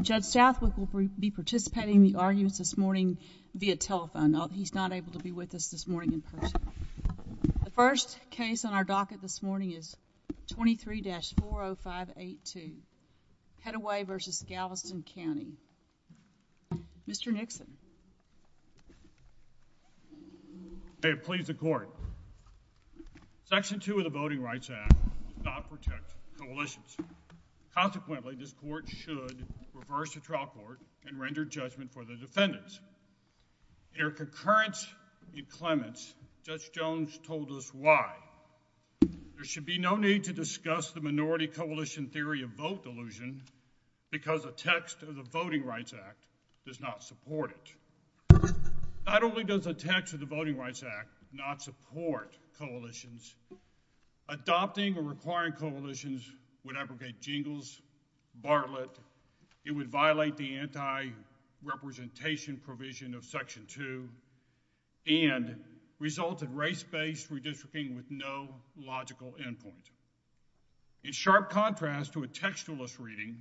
Judge Southwick will be participating in the arguments this morning via telephone. He's not able to be with us this morning in person. The first case on our docket this morning is 23-40582 Petteway v. Galveston County. Mr. Nixon. May it please the court. Section 2 of the Voting Rights Act does not protect coalitions. Consequently, this court should reverse the trial court and render judgment for the defendants. In her concurrence and clemency, Judge Jones told us why. There should be no need to discuss the minority coalition theory of vote delusion because the text of the Voting Rights Act does not support it. Not only does the text of the Voting Rights Act not support coalitions, adopting or requiring coalitions would abrogate Jingles, Bartlett. It would violate the anti-representation provision of Section 2 and result in race-based redistricting with no logical end point. In sharp contrast to a textualist reading,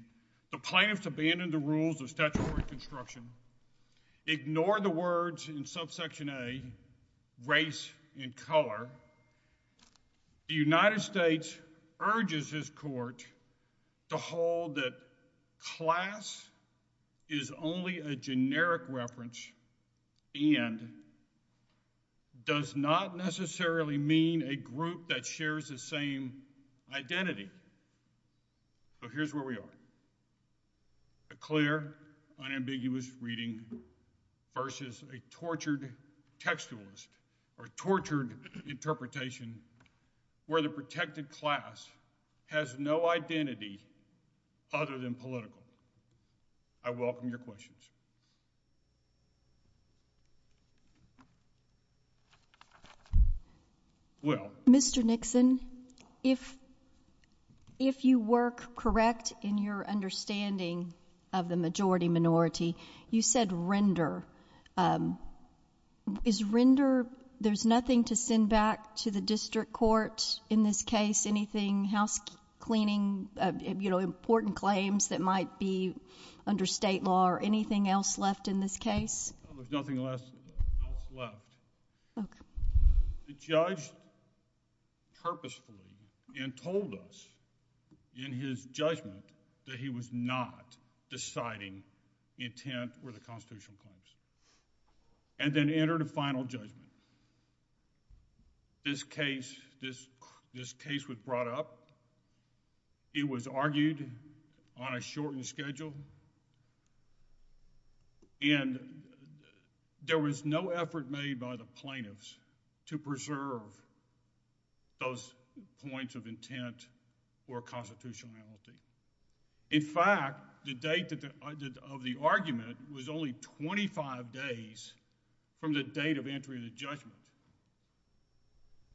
the plaintiffs abandoned the rules of statutory construction, ignored the words in subsection A, race and color. The United States urges this court to hold that class is only a generic reference and does not necessarily mean a group that shares the same identity. So here's where we are. A clear, unambiguous reading versus a tortured textualist or tortured interpretation where the protected class has no identity other than political. I welcome your questions. Well, Mr. Nixon, if you work correct in your understanding of the majority minority, you said render. Is render, there's nothing to send back to the district court in this case, anything, house cleaning, you know, important claims that might be under state law or anything else left in this case? There's nothing else left. The judge purposefully and told us in his judgment that he was not deciding intent for the constitutional claims and then entered a final judgment. This case was brought up. It was argued on a shortened schedule and there was no effort made by the plaintiffs to preserve those points of intent or constitutionality. In fact, the date of the argument was only 25 days from the date of entry of the judgment.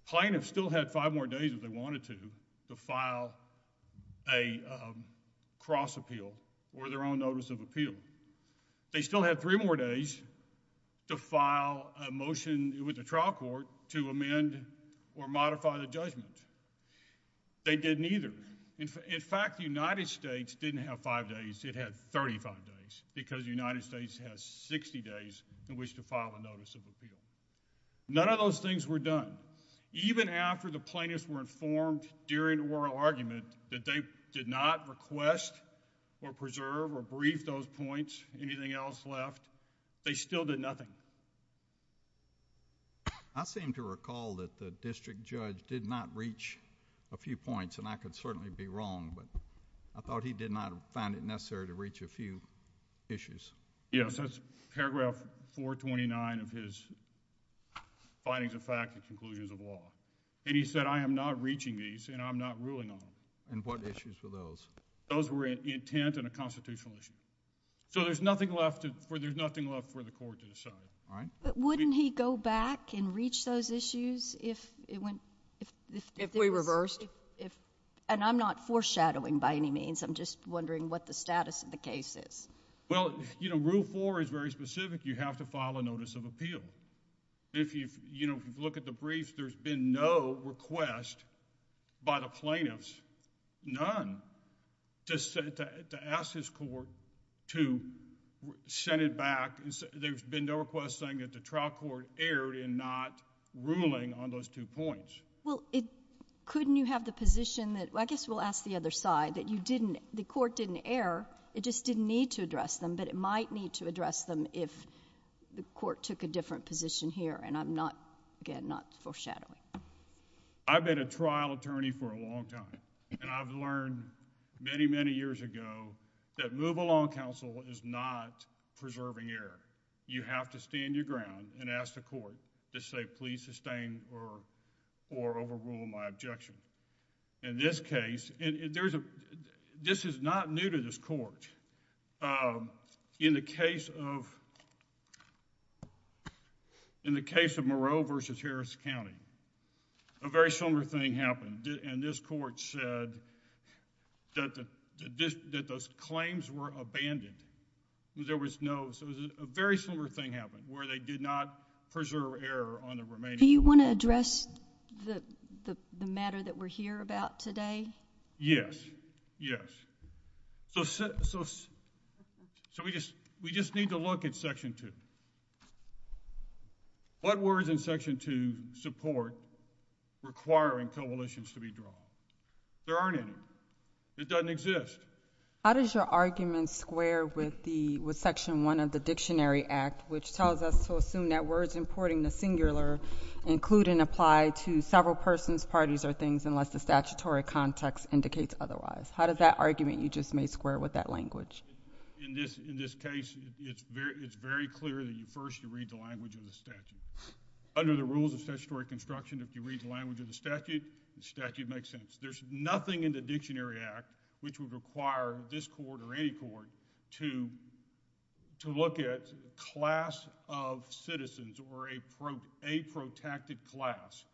Plaintiffs still had five more days if they wanted to, to file a cross appeal or their own notice of appeal. They still had three more days to file a motion with the trial court to amend or modify the days because the United States has 60 days in which to file a notice of appeal. None of those things were done. Even after the plaintiffs were informed during oral argument that they did not request or preserve or brief those points, anything else left, they still did nothing. I seem to recall that the district judge did not reach a few points and I could certainly be wrong, but I thought he did not find it necessary to reach a few issues. Yes, that's paragraph 429 of his findings of fact and conclusions of law. And he said I am not reaching these and I'm not ruling on them. And what issues were those? Those were an intent and a constitutional issue. So there's nothing left for the court to decide. But wouldn't he go back and reach those issues if we reversed? And I'm not foreshadowing by any means. I'm just wondering what the status of the case is. Well, you know, Rule 4 is very specific. You have to file a notice of appeal. If you look at the brief, there's been no request by the plaintiffs, none, to ask his court to send it back. There's been no request saying that the trial court erred in not ruling on those two points. Well, couldn't you have the position that, I guess we'll ask the other side, that the court didn't err, it just didn't need to address them, but it might need to address them if the court took a different position here. And I'm not, again, not foreshadowing. I've been a trial attorney for a long time and I've learned many, many years ago that move-along counsel is not preserving error. You have to stand your court to say please sustain or overrule my objection. In this case, and this is not new to this court, in the case of Moreau v. Harris County, a very similar thing happened and this court said that those claims were abandoned. There was no, so it was a very similar thing where they did not preserve error on the remaining. Do you want to address the matter that we're here about today? Yes, yes. So we just need to look at Section 2. What words in Section 2 support requiring coalitions to be drawn? There aren't any. It doesn't exist. How does your argument square with Section 1 of the Dictionary Act, which tells us to assume that words importing the singular include and apply to several persons, parties, or things unless the statutory context indicates otherwise? How does that argument, you just made square with that language? In this case, it's very clear that first you read the language of the statute. Under the rules of statutory construction, if you read the language of the statute, the statute makes sense. There's nothing in the Dictionary Act which would require this court or any court to look at class of citizens or a protected class,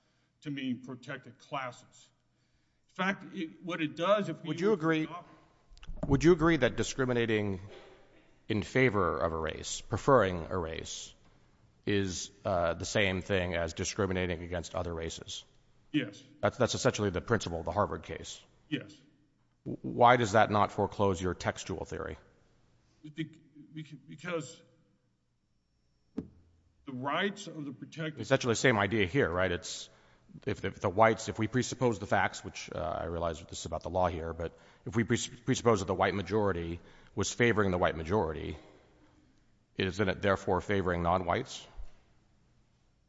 to mean protected classes. In fact, what it does, if you would agree, would you agree that discriminating in favor of a race, preferring a race, is the same thing as discriminating against other races? Yes. That's essentially the principle of the Harvard case. Yes. Why does that not foreclose your textual theory? Because the rights of the protected... Essentially the same idea here, right? If we presuppose the facts, which I realize this is about the law here, but if we presuppose that the white majority was favoring the white majority, isn't it therefore favoring non-whites?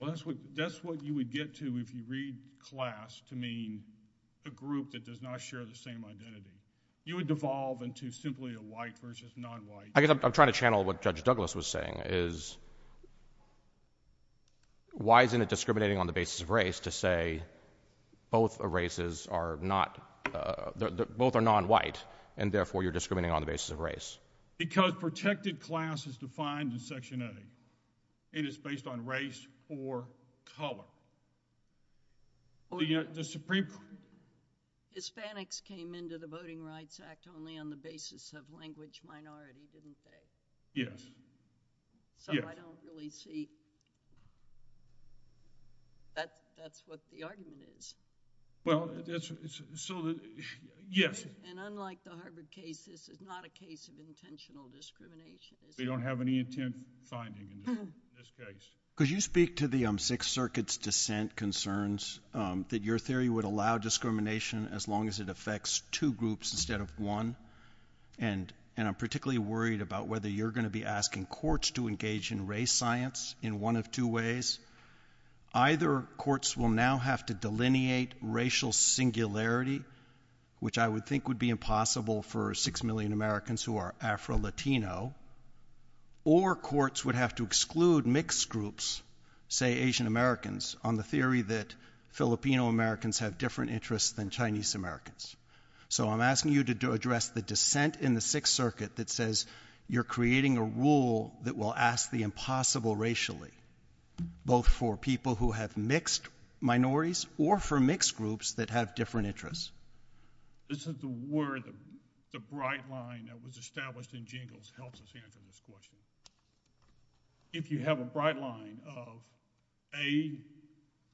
Well, that's what you would get to if you read class to mean a group that does not share the same identity. You would devolve into simply a white versus non-white. I guess I'm trying to channel what Judge Douglas was saying, is why isn't it discriminating on the basis of race to say both races are not, both are non-white, and therefore you're discriminating on the basis of race? Because protected class is defined in Section A. It is based on race or color. Hispanics came into the Voting Rights Act only on the basis of language minority, didn't they? Yes. So I don't really see... That's what the argument is. Well, yes. And unlike the Harvard case, this is not a case of intentional discrimination. We don't have any intent finding in this case. Could you speak to the Sixth Circuit's dissent concerns that your theory would allow discrimination as long as it affects two groups instead of one? And I'm particularly worried about whether you're going to be asking courts to engage in race science in one of two ways. Either courts will now have to delineate racial singularity, which I would think would be impossible for six million Americans who are Afro-Latino, or courts would have to exclude mixed groups, say Asian Americans, on the theory that Filipino Americans have different interests than Chinese Americans. So I'm asking you to address the dissent in the Sixth Circuit that says you're creating a rule that will ask the impossible racially, both for people who have mixed minorities or for mixed groups that have different interests. This is where the bright line that was established in Jingles helps us answer this question. If you have a bright line of a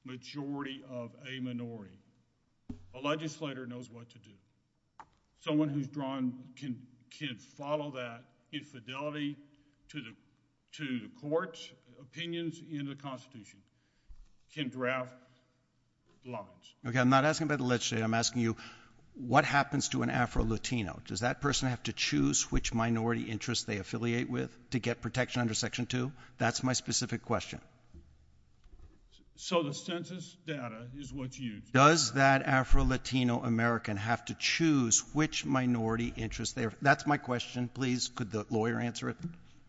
majority of a minority, a legislator knows what to do. Someone who's drawn can follow that infidelity to the court's opinions in the Constitution, can draft laws. Okay, I'm not asking about the legislature. I'm asking you, what happens to an Afro-Latino? Does that person have to choose which minority interests they affiliate with to get protection under Section 2? That's my specific question. So the census data is what's used. Does that Afro-Latino American have to choose which minority interests? That's my question. Please, could the lawyer answer it?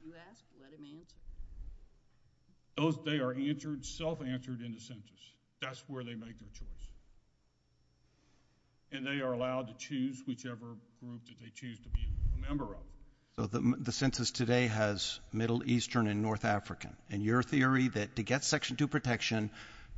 You asked, let him answer it. They are self-answered in the census. That's where they make their choice. And they are allowed to choose whichever group that they choose to be a member of. So the census today has Middle Eastern and North African. And your theory that to get Section 2 protection,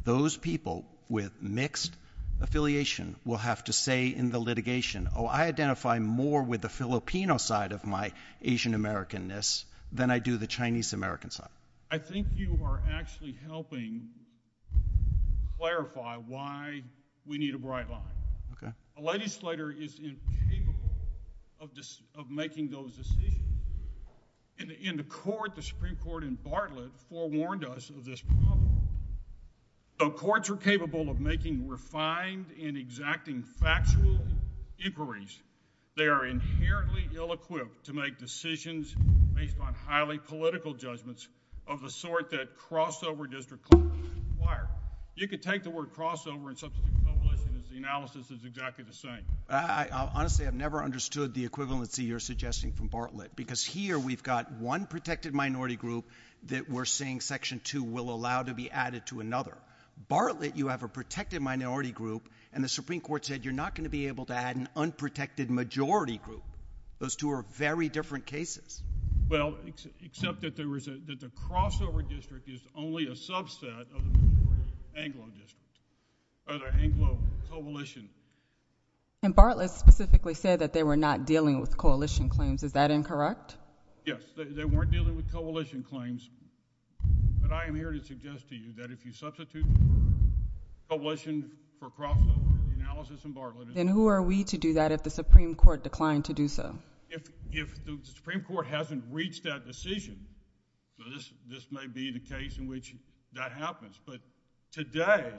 those people with mixed affiliation will have to say in the litigation, oh, I identify more with the Filipino side of my Asian American-ness than I do the Chinese American side. I think you are actually helping clarify why we need a bright line. A legislator is incapable of making those decisions. And the Supreme Court in Bartlett forewarned us of this problem. So courts are capable of making refined and exacting factual inquiries. They are inherently ill-equipped to make decisions based on highly political judgments of the sort that crossover district courts require. You could take the word crossover and substitute coalition as the analysis is exactly the same. I honestly have never understood the equivalency you're suggesting from Bartlett. Because here we've got one protected minority group that we're saying Section 2 will allow to be added to another. Bartlett, you have a protected minority group, and the Supreme Court said you're not going to be able to add an unprotected majority group. Those two are very different cases. Well, except that the crossover district is only a subset of the Anglo district, of the Anglo coalition. And Bartlett specifically said that they were not dealing with coalition claims. Is that incorrect? Yes, they weren't dealing with coalition claims. But I am here to suggest to you that if you substitute coalition for crossover analysis in Bartlett— Then who are we to do that if the Supreme Court declined to do so? If the Supreme Court hasn't reached that decision, this may be the case in which that happens. But today,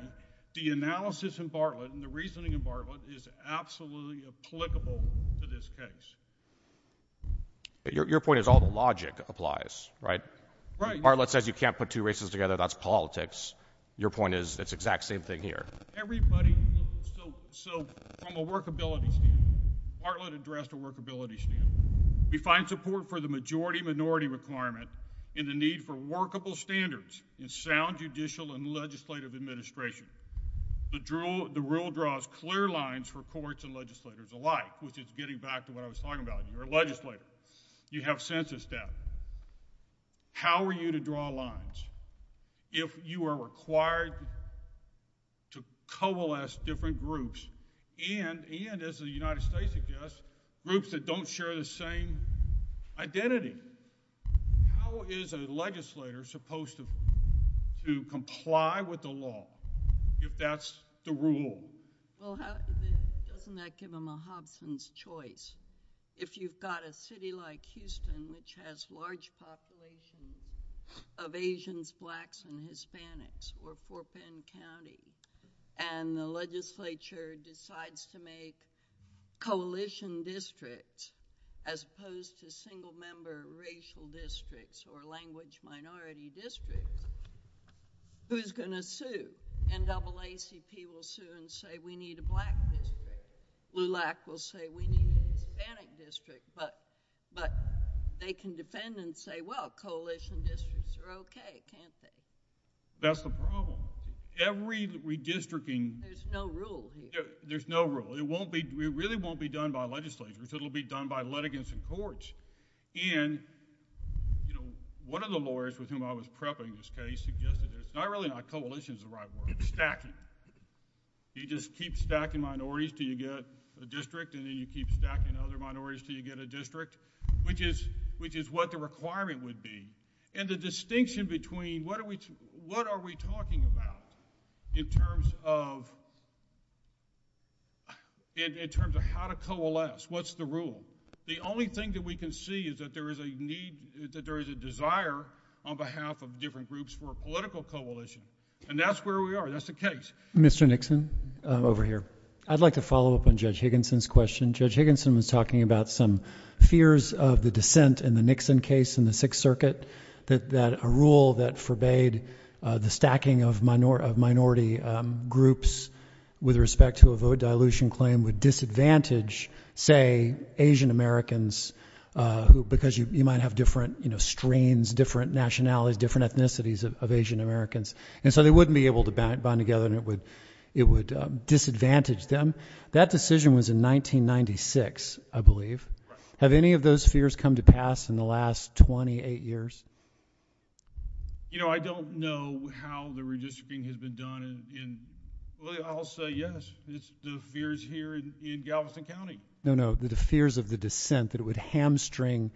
the analysis in Bartlett and the reasoning in Bartlett is absolutely applicable to this case. Your point is all the logic applies, right? Right. Bartlett says you can't put two races together. That's politics. Your point is it's the exact same thing here. Everybody— So from a workability standpoint, Bartlett addressed a workability standpoint. We find support for the majority-minority requirement in the need for workable standards in sound judicial and legislative administration. The rule draws clear lines for courts and legislators alike, which is getting back to what I was talking about. You're a legislator. You have census data. How are you to draw lines if you are required to coalesce different groups and, as the United States suggests, groups that don't share the same identity? How is a legislator supposed to comply with the law if that's the rule? Well, doesn't that give them a Hobson's choice? If you've got a city like Houston, which has a large population of Asians, Blacks, and Hispanics, or Fort Penn County, and the legislature decides to make coalition districts as opposed to single-member racial districts or language-minority districts, who's going to sue? NAACP will sue and say, we need a Hispanic district, but they can defend and say, well, coalition districts are okay, can't they? That's the problem. Every redistricting... There's no rule here. There's no rule. It really won't be done by legislators. It'll be done by litigants in courts. One of the lawyers with whom I was prepping this case suggested, not really not coalition is the right word, stacking. You just keep stacking minorities until you get a district and then you keep stacking other minorities until you get a district, which is what the requirement would be. The distinction between what are we talking about in terms of how to coalesce? What's the rule? The only thing that we can see is that there is a desire on behalf of different groups for a political coalition. That's where we are. That's the case. Mr. Nixon, over here. I'd like to follow up on Judge Higginson's question. Judge Higginson was talking about some fears of the dissent in the Nixon case in the Sixth Circuit, that a rule that forbade the stacking of minority groups with respect to a vote dilution claim would disadvantage, say, Asian Americans, because you might have different strains, different nationalities, different ethnicities of Asian Americans, and so they wouldn't be able to bind together and it would disadvantage them. That decision was in 1996, I believe. Have any of those fears come to pass in the last 28 years? You know, I don't know how the redistricting has been done. I'll say yes, it's the fears here in Galveston County. No, no, the fears of the dissent that would hamstring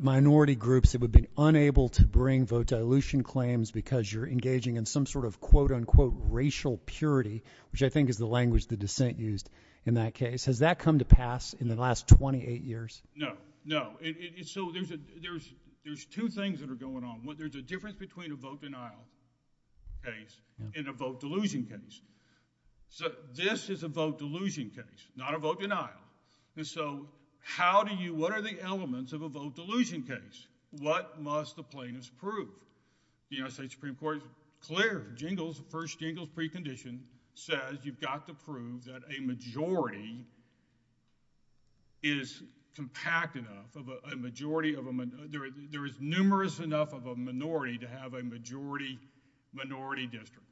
minority groups that would be unable to bring vote dilution claims because you're engaging in some sort of quote-unquote racial purity, which I think is the language the dissent used in that case. Has that come to pass in the last 28 years? No, no. So there's two things that are going on. There's a difference between a vote denial case and a vote dilution case. So this is a vote dilution case, not a vote denial, and so how do you... what are the elements of a vote dilution case? What must the plaintiffs prove? The United States Supreme Court, clear, Jingles, the first Jingles precondition says you've got to prove that a majority is compact enough, a majority of a... there is numerous enough of a minority to have a majority-minority district.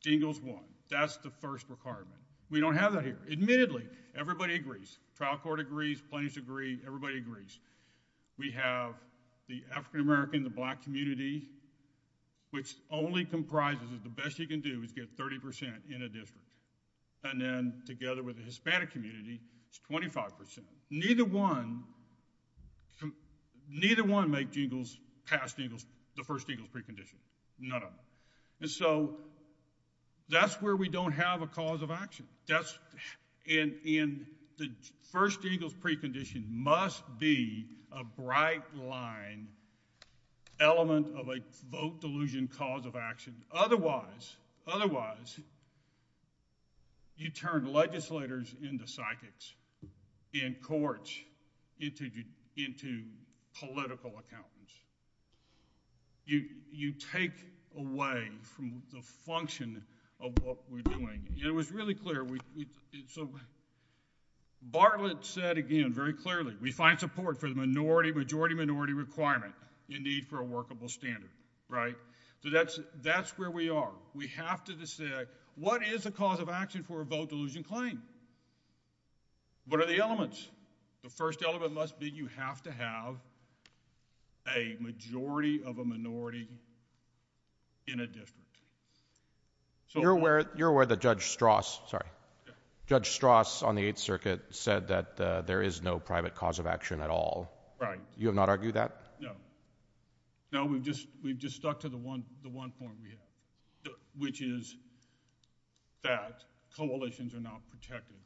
Jingles won. That's the first requirement. We don't have that here. Admittedly, everybody agrees. Trial court agrees. Plaintiffs agree. Everybody agrees. We have the African-American, the black community, which only comprises of the best you can do is get 30 percent in a district, and then together with the Hispanic community, it's 25 percent. Neither one... neither one make Jingles past Jingles, the first Jingles precondition. None of them. And so that's where we don't have a cause of action. That's... and the first Jingles precondition must be a bright line element of a vote dilution cause of action. Otherwise... otherwise you turn legislators into psychics, in courts into political accountants. You take away from the function of what we're doing. And it was really clear we... so Bartlett said again very clearly, we find support for the minority-majority-minority requirement in need for a workable standard, right? So that's where we are. We have to decide what is the cause of action for a vote dilution claim? What are the elements? The first element must be you have to have a majority of a minority in a district. So you're aware... you're aware that Judge Strass... sorry... Judge Strass on the Eighth Circuit said that there is no private cause of action at all. Right. You have not argued that? No. No, we've just... we've just stuck to the one... the one point we have, which is that coalitions are not protected.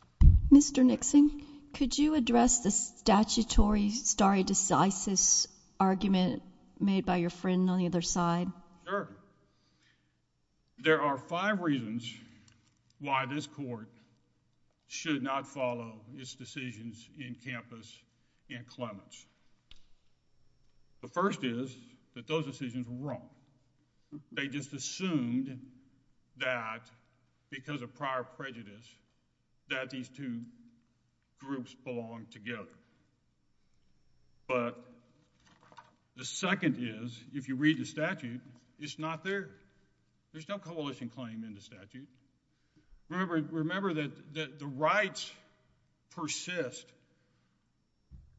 Mr. Nixon, could you address the statutory stare decisis argument made by your friend on the other side? Sure. There are five reasons why this court should not follow its decisions in campus in Clements. The first is that those decisions were wrong. They just assumed that because of our prejudice that these two groups belong together. But the second is, if you read the statute, it's not there. There's no coalition claim in the statute. Remember that the rights persist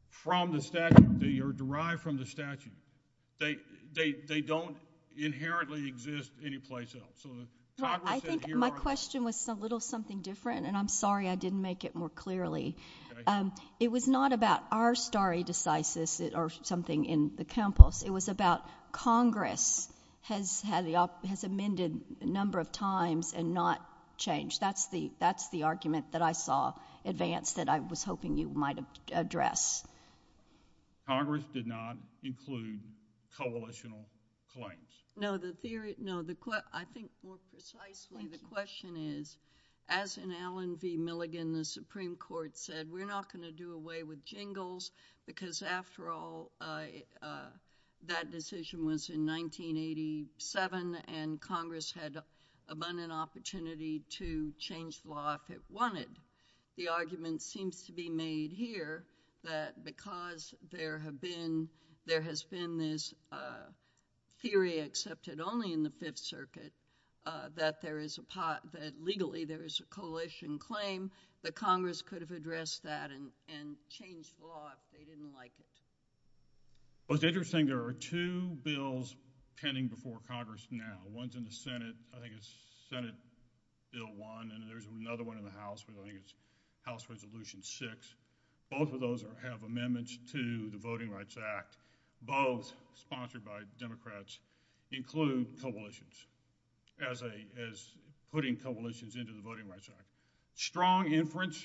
from the statute. They are derived from the statute. They don't inherently exist anyplace else. I think my question was a little something different, and I'm sorry I didn't make it more clearly. It was not about our stare decisis or something in the campus. It was about Congress has had the... has amended a number of times and not changed. That's the argument that I saw advance that I was hoping you might address. Congress did not include coalitional claims. No, the theory... no, I think more precisely the question is, as in Allen v. Milligan, the Supreme Court said, we're not going to do away with jingles because, after all, that decision was in 1987, and Congress had abundant opportunity to change the law if it wanted. The argument seems to be made here that because there have been... there has been this theory accepted only in the Fifth Circuit that there is a pot... that legally there is a coalition claim that Congress could have addressed that and changed the law if they didn't like it. Well, it's interesting. There are two bills pending before Congress now. One's in the Senate. I think it's Senate Bill 1, and there's another one in the House, but I think it's House Resolution 6. Both of those have amendments to the Voting Rights Act. Both sponsored by Democrats include coalitions as a... as putting coalitions into the Voting Rights Act. Strong inference.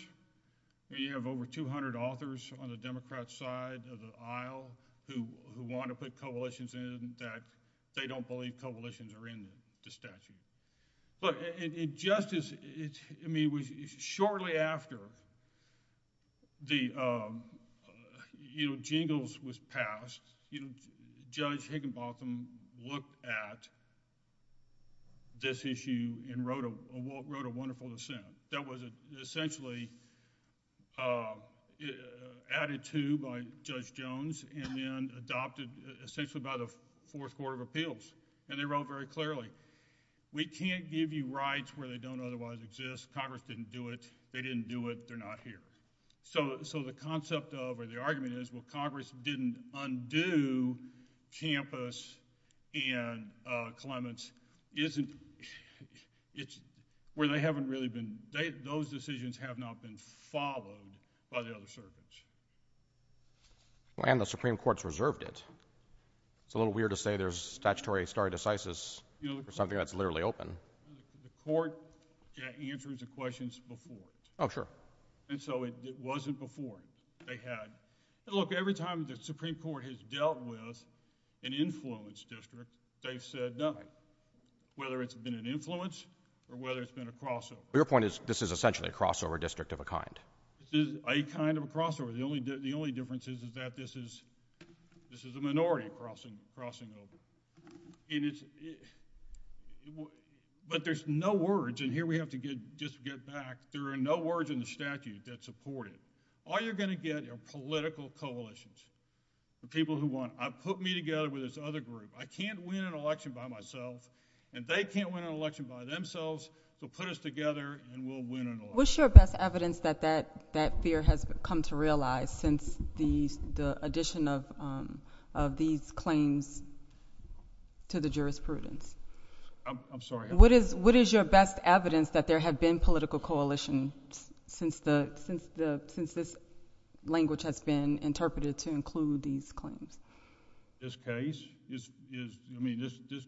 You have over 200 authors on the Democrat side of the aisle who want to put coalitions in that they don't believe coalitions are in the statute. But it just is... it's... Judge Higginbotham looked at this issue and wrote a wonderful dissent that was essentially added to by Judge Jones and then adopted essentially by the Fourth Court of Appeals, and they wrote very clearly, we can't give you rights where they don't otherwise exist. Congress didn't do it. They didn't do it. They're not here. So the concept of, or the argument is, Congress didn't undo Campus and Clements isn't... it's where they haven't really been... those decisions have not been followed by the other circuits. And the Supreme Court's reserved it. It's a little weird to say there's statutory stare decisis for something that's literally open. The Court answered the questions before. Oh, sure. And so it wasn't before. They had... Look, every time the Supreme Court has dealt with an influence district, they've said nothing, whether it's been an influence or whether it's been a crossover. Your point is this is essentially a crossover district of a kind. This is a kind of a crossover. The only difference is that this is a minority crossing over. But there's no words, and here we have to just get back. There are no words in the coalition for people who want... put me together with this other group. I can't win an election by myself, and they can't win an election by themselves. So put us together, and we'll win an election. What's your best evidence that that fear has come to realize since the addition of these claims to the jurisprudence? I'm sorry? What is your best evidence that that fear has come to realize since the addition of these claims to the jurisprudence? This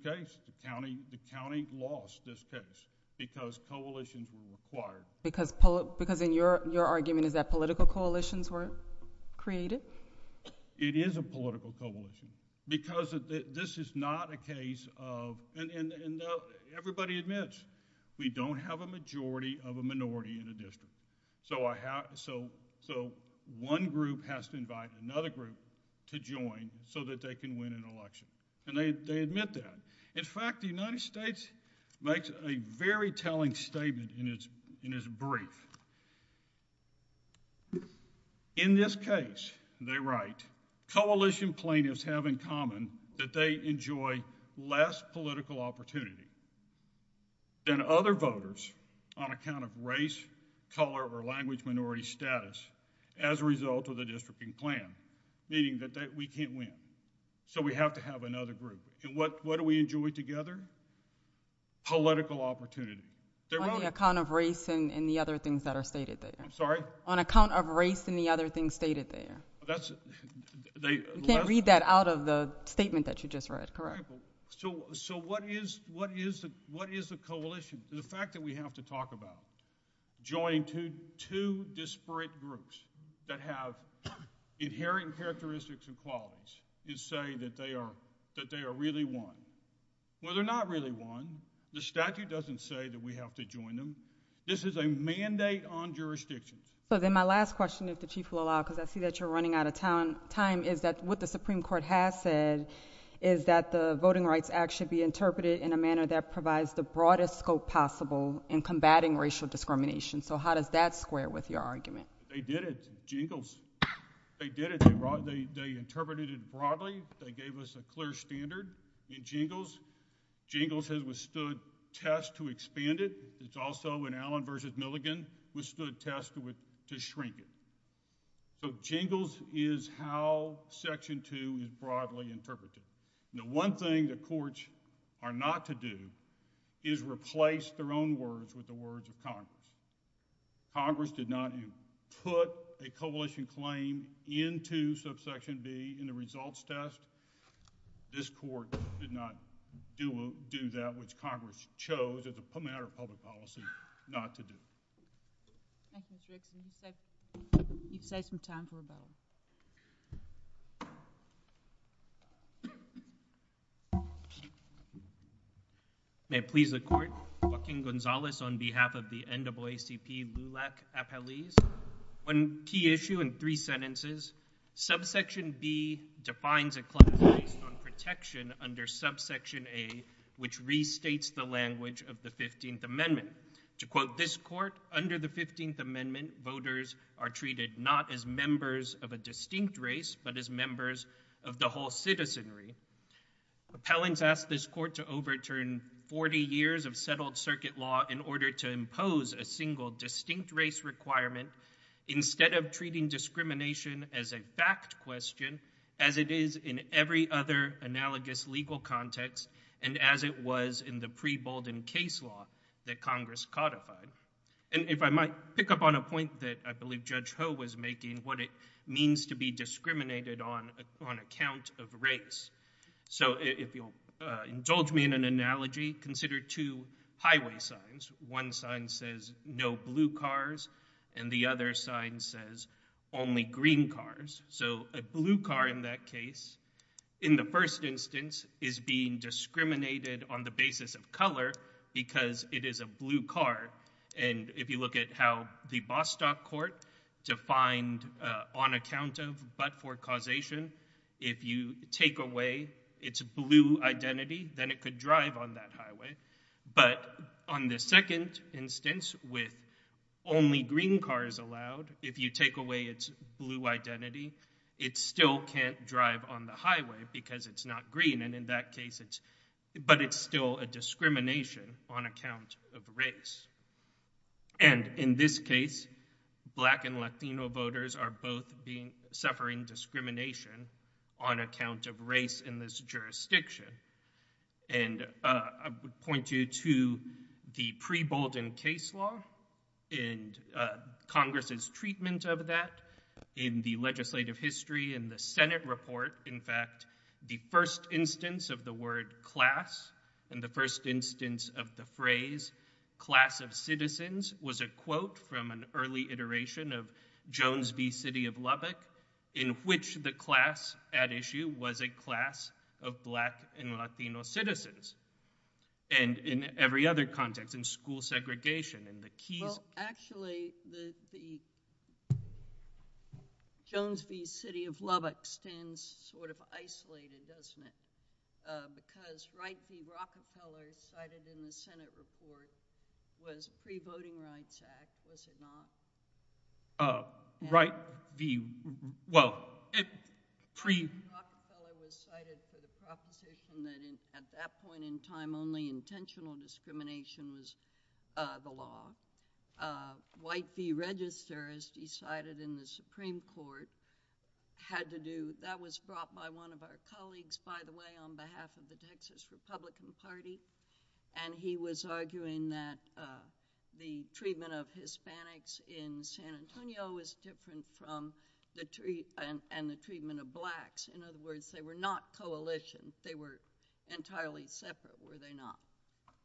case, the County lost this case because coalitions were required. Because in your argument is that political coalitions were created? It is a political coalition because this is not a case of... now, everybody admits we don't have a majority of a minority in the district. So one group has to invite another group to join so that they can win an election. And they admit that. In fact, the United States makes a very telling statement in its brief. In this case, they write, coalition plaintiffs have in common that they enjoy less political opportunity than other voters on account of race, color, or language minority status as a result of the districting plan, meaning that we can't win. So we have to have another group. And what do we enjoy together? Political opportunity. On the account of race and the other things that are stated there. I'm sorry? On account of race and the other things stated there. You can't read that out of the statement that you just read, correct? So what is the coalition? The fact that we have to talk about joining two disparate groups that have inherent characteristics and qualities and say that they are really won. Well, they're not really won. The statute doesn't say that we have to join them. This is a mandate on jurisdiction. So then my last question, if the Chief will allow, because I see that you're running out of time, is that what the Supreme Court has said is that the Voting Rights Act should be interpreted in a manner that provides the broadest scope possible in combating racial discrimination. So how does that square with your argument? They did it. Jingles. They did it. They brought, they interpreted it broadly. They gave us a clear standard in Jingles. Jingles has withstood tests to expand it. It's also in Allen versus Milligan, withstood tests to shrink it. So Jingles is how Section 2 is broadly interpreted. The one thing the courts are not to do is replace their own words with the words of Congress. Congress did not put a coalition claim into subsection B in the results test. This court did not do that, which Congress chose as a matter of public policy not to do. Thank you, Mr. Excellency. It's like you've said some time for a while. May it please the Court, Joaquin Gonzalez on behalf of the NAACP LULAC Appellees. One key issue in three sentences, subsection B defines a clause based on protection under subsection A, which restates the language of the 15th Amendment. To quote this court, under the 15th Amendment, voters are treated not as members of a distinct race, but as members of the whole citizenry. Appellants asked this court to overturn 40 years of settled circuit law in order to impose a single distinct race requirement, instead of treating discrimination as a fact question, as it is in every other analogous legal context, and as it was in the pre-Bolden case law that Congress codified. If I might pick up on a point that I believe Judge Ho was making, what it means to be discriminated on on account of race. If you'll indulge me in an analogy, consider two highway signs. One sign says no blue cars, and the other sign says only green cars. A blue car in that is being discriminated on the basis of color, because it is a blue car. And if you look at how the Bostock Court defined on account of, but for causation, if you take away its blue identity, then it could drive on that highway. But on the second instance, with only green cars allowed, if you take away its blue identity, it still can't drive on the highway, because it's not green. And in that case, it's, but it's still a discrimination on account of race. And in this case, Black and Latino voters are both being, suffering discrimination on account of race in this jurisdiction. And I would point you to the pre-Bolden case law and Congress's treatment of that in the legislative history and the Senate report. In fact, the first instance of the word class and the first instance of the phrase class of citizens was a quote from an early iteration of Jones v. City of Lubbock, in which the class at issue was a class of Black and Latino citizens. And in every other context, in school segregation and the keys. Well, actually, the Jones v. City of Lubbock stands sort of isolated, doesn't it? Because Wright v. Rockefeller, cited in the Senate report, was pre-Voting Rights Act, was it not? Wright v. Rockefeller was cited for the proposition that at that point in time, only intentional discrimination was the law. White v. Register, as he cited in the Supreme Court, had to do, that was brought by one of our colleagues, by the way, on behalf of the Texas Republican Party. And he was arguing that the treatment of Hispanics in San Antonio was different from the treatment of Blacks. In other words, they were not coalitions. They were entirely separate, were they not?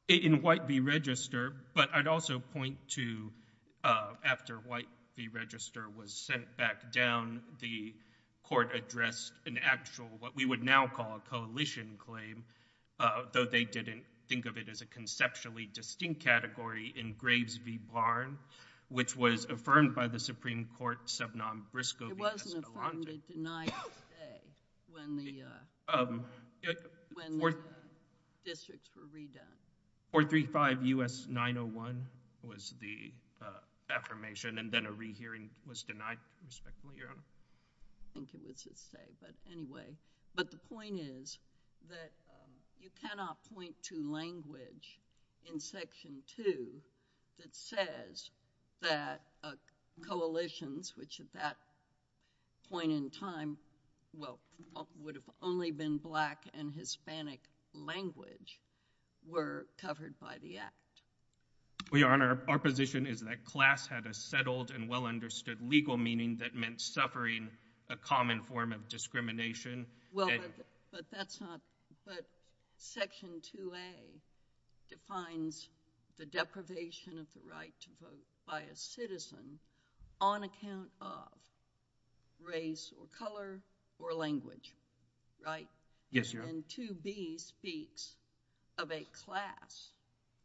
In White v. Register, but I'd also point to after White v. Register was sent back down, the court addressed an actual, what we would now call a coalition claim, though they didn't think of it as a conceptually distinct category, in Graves v. Barn, which was affirmed by the Supreme Court sub nom briscoe v. Escalante. It wasn't affirmed. It denied its stay when the districts were redone. 435 U.S. 901 was the affirmation, and then a rehearing was denied, respectfully, Your Honor. I think it was his say, but anyway. But the point is that you cannot point to language in Section 2 that says that coalitions, which at that point in time, well, would have only been Black and Hispanic language, were covered by the Act. Well, Your Honor, our position is that class had a settled and well-understood legal meaning that suffering a common form of discrimination. Well, but that's not, but Section 2A defines the deprivation of the right to vote by a citizen on account of race or color or language, right? Yes, Your Honor. And 2B speaks of a class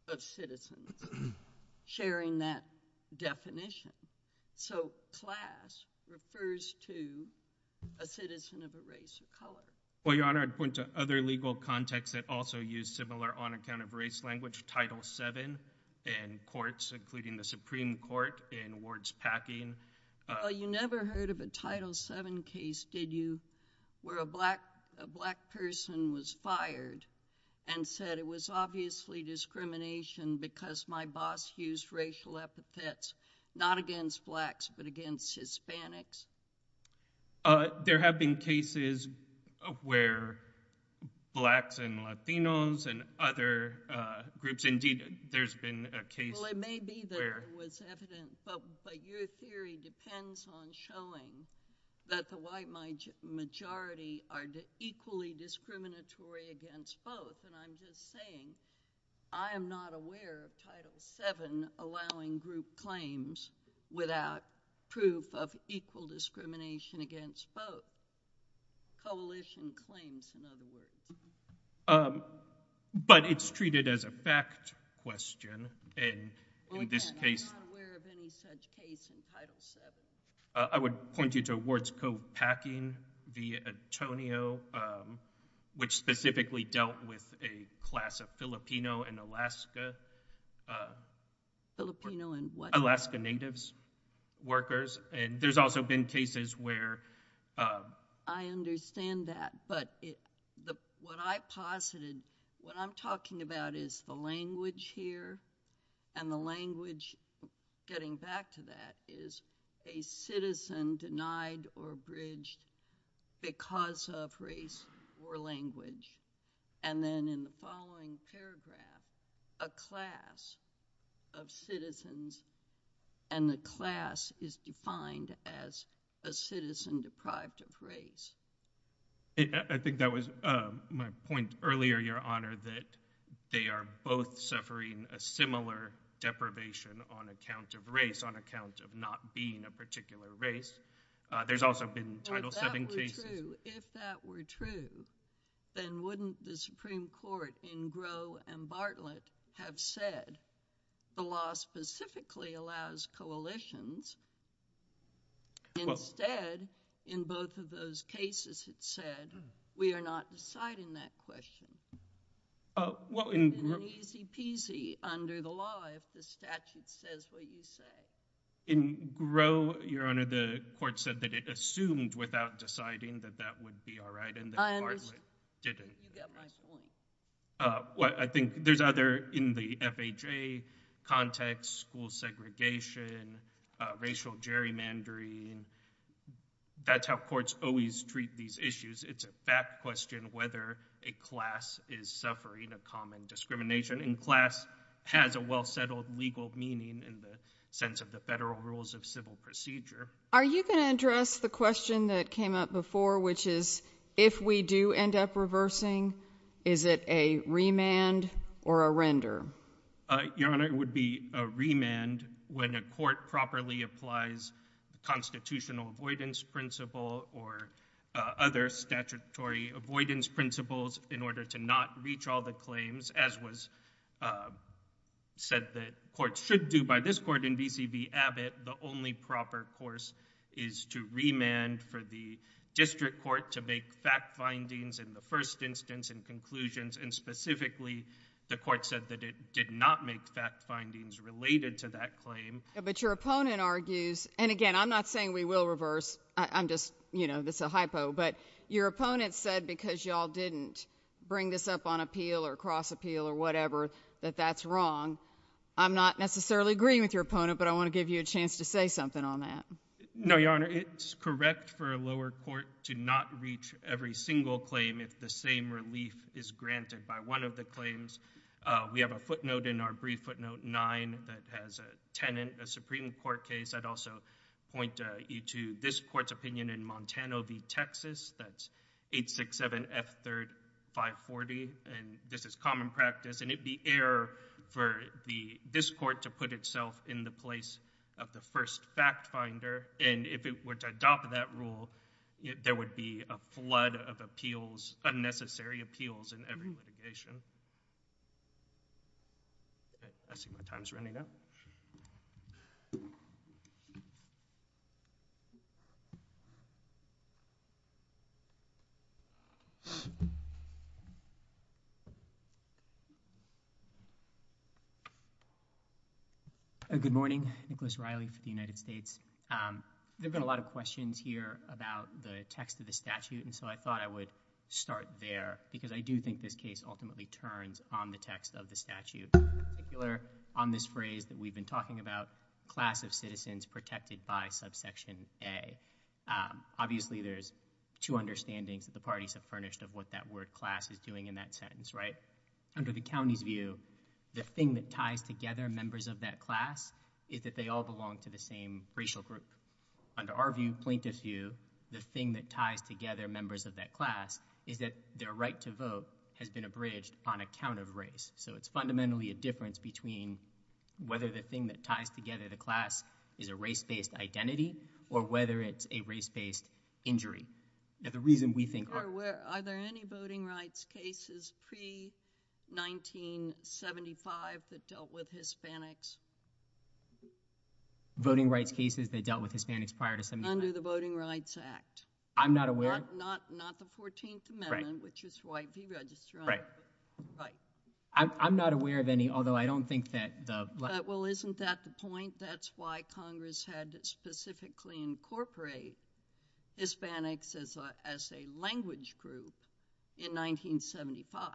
of citizens sharing that definition. So class refers to a citizen of a race or color. Well, Your Honor, I'd point to other legal contexts that also use similar on account of race language, Title VII in courts, including the Supreme Court in wards packing. Well, you never heard of a Title VII case, did you, where a Black person was fired and said, it was obviously discrimination because my boss used racial epithets, not against Blacks, but against Hispanics? There have been cases where Blacks and Latinos and other groups, indeed, there's been a case. Well, it may be that it was evident, but your theory depends on showing that the white majority are equally discriminatory against both. And I'm just saying, I am not aware of Title VII allowing group claims without proof of equal discrimination against both coalition claims, in other words. Um, but it's treated as a fact question. And in this case— I'm not aware of any such case in Title VII. I would point you to wards co-packing via Antonio, which specifically dealt with a class of Filipino and Alaska— Filipino and what? Alaska Natives workers. And there's also been cases where— I understand that, but what I posited, what I'm talking about is the language here, and the language, getting back to that, is a citizen denied or abridged because of race or language. And then in the following paragraph, a class of citizens, and the class is defined as a citizen deprived of race. I think that was my point earlier, Your Honor, that they are both suffering a similar deprivation on account of race, on account of not being a particular race. There's also been Title VII cases— If that were true, then wouldn't the Supreme Court in Gros and Bartlett have said the law specifically allows coalitions? Instead, in both of those cases, it said we are not deciding that question. Uh, well— It would be easy-peasy under the law if the statute says what you say. In Gros, Your Honor, the court said that it assumed without deciding that that would be all right, and that Bartlett didn't. I understand. You got my point. Uh, well, I think there's other— in the FHA context, school segregation, racial gerrymandering, that's how courts always treat these issues. It's a fact question whether a class is suffering a common discrimination, and class has a well-settled legal meaning in the sense of the federal rules of civil procedure. Are you going to address the question that came up before, which is, if we do end up reversing, is it a remand or a render? Your Honor, it would be a remand when a court properly applies constitutional avoidance principle or other statutory avoidance principles in order to not reach all the claims, as was said that courts should do by this court in B.C.B. Abbott. The only proper course is to remand for the district court to make fact findings in the first instance and conclusions, and specifically, the court said that it did not make fact findings related to that claim. But your opponent argues— and again, I'm not saying we will reverse. I'm just, you know, this is a hypo. But your opponent said, because y'all didn't bring this up on appeal or cross appeal or whatever, that that's wrong. I'm not necessarily agreeing with your opponent, but I want to give you a chance to say something on that. No, your Honor, it's correct for a lower court to not reach every single claim if the same relief is granted by one of the claims. We have a footnote in our brief footnote 9 that has a tenant, a Supreme Court case. I'd also point you to this court's opinion in Montano v. Texas. That's 867 F. 3rd 540, and this is common practice, and it'd be error for this court to itself in the place of the first fact finder, and if it were to adopt that rule, there would be a flood of appeals, unnecessary appeals in every litigation. I see my time's running out. Good morning. Nicholas Riley for the United States. There have been a lot of questions here about the text of the statute, and so I thought I would start there, because I do think this case ultimately turns on the text of the statute. In particular, on this phrase that we've been talking about, class of citizens protected by subsection A. Obviously, there's two understandings that the parties have furnished of what that word class is doing in that sentence, under the county's view, the thing that ties together members of that class is that they all belong to the same racial group. Under our view, plaintiff's view, the thing that ties together members of that class is that their right to vote has been abridged on account of race, so it's fundamentally a difference between whether the thing that ties together the class is a race-based identity or whether it's a race-based injury. Now, the reason we think— Are there any voting rights cases pre-1975 that dealt with Hispanics? Voting rights cases that dealt with Hispanics prior to— Under the Voting Rights Act. I'm not aware— Not the 14th Amendment, which is why deregister— I'm not aware of any, although I don't think that the— Well, isn't that the point? That's why Congress had to specifically incorporate Hispanics as a language group in 1975.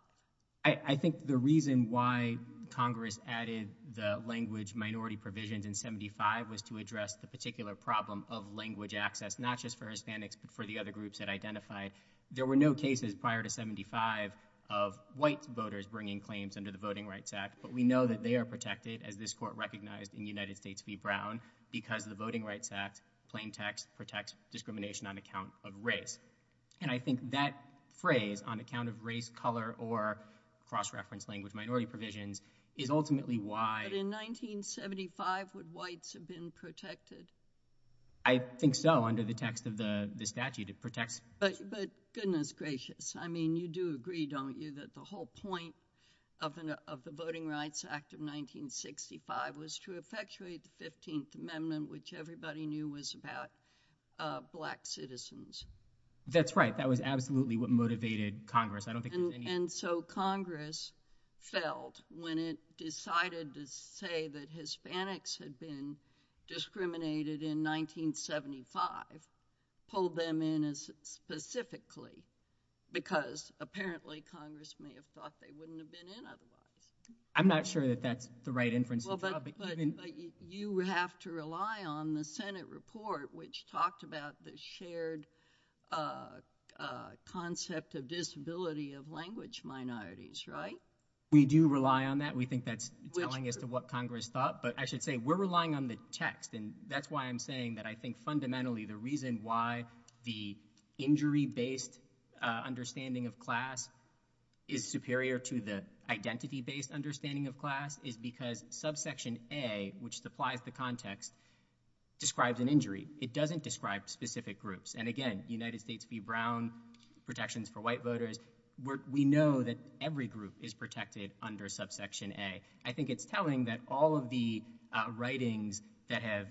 I think the reason why Congress added the language minority provisions in 75 was to address the particular problem of language access, not just for Hispanics but for the other groups it identified. There were no cases prior to 75 of white voters bringing claims under the Voting Rights Act, but we know that they are protected, as this Court recognized in United States v. Brown, because the Voting Rights Act, plain text, protects discrimination on account of race. And I think that phrase, on account of race, color, or cross-reference language minority provisions, is ultimately why— But in 1975, would whites have been protected? I think so, under the text of the statute. It protects— But goodness gracious, I mean, you do agree, don't you, that the whole point of the Voting Rights Act of 1965 was to effectuate the 15th Amendment, which everybody knew was about black citizens? That's right. That was absolutely what motivated Congress. I don't think— And so Congress felt, when it decided to say that Hispanics had been discriminated in 1975, pulled them in as specifically, because apparently Congress may have thought they wouldn't have been in otherwise. I'm not sure that that's the right inference to draw, but even— But you have to rely on the Senate report, which talked about the shared concept of disability of language minorities, right? We do rely on that. We think that's telling as to what Congress thought. But I should say, we're relying on the text, and that's why I'm saying that I think fundamentally the reason why the injury-based understanding of class is superior to the identity-based understanding of class is because subsection A, which supplies the context, describes an injury. It doesn't describe specific groups. And again, United States v. Brown, protections for white voters, we know that every group is protected under subsection A. I think it's telling that all of the writings that have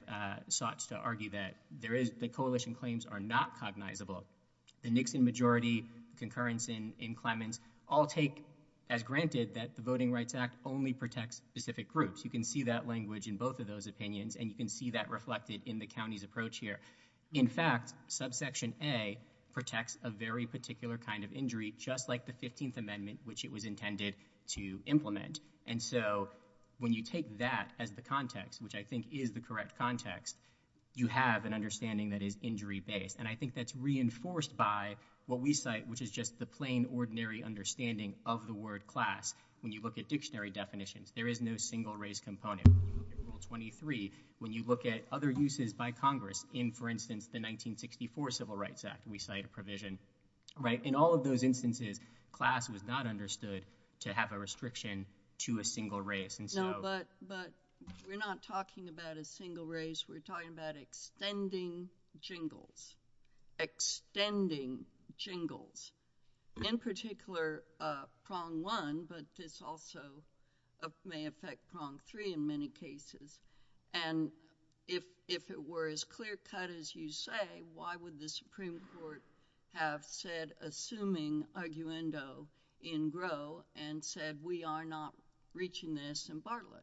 sought to argue that the coalition claims are not cognizable, the Nixon majority, concurrence in Clemens, all take as granted that the Voting Rights Act only protects specific groups. You can see that language in both of those opinions, and you can see that reflected in the county's approach here. In fact, subsection A protects a very particular kind of injury, just like the 15th Amendment, which it was you take that as the context, which I think is the correct context, you have an understanding that is injury-based. And I think that's reinforced by what we cite, which is just the plain, ordinary understanding of the word class. When you look at dictionary definitions, there is no single race component. Rule 23, when you look at other uses by Congress in, for instance, the 1964 Civil Rights Act, we cite a provision. In all of those instances, class was not understood to have a restriction to a single race. No, but we're not talking about a single race. We're talking about extending jingles. Extending jingles. In particular, prong one, but this also may affect prong three in many cases. And if it were as clear-cut as you say, why would the Supreme Court have said, assuming arguendo in grow, and said, we are not reaching this in Bartlett?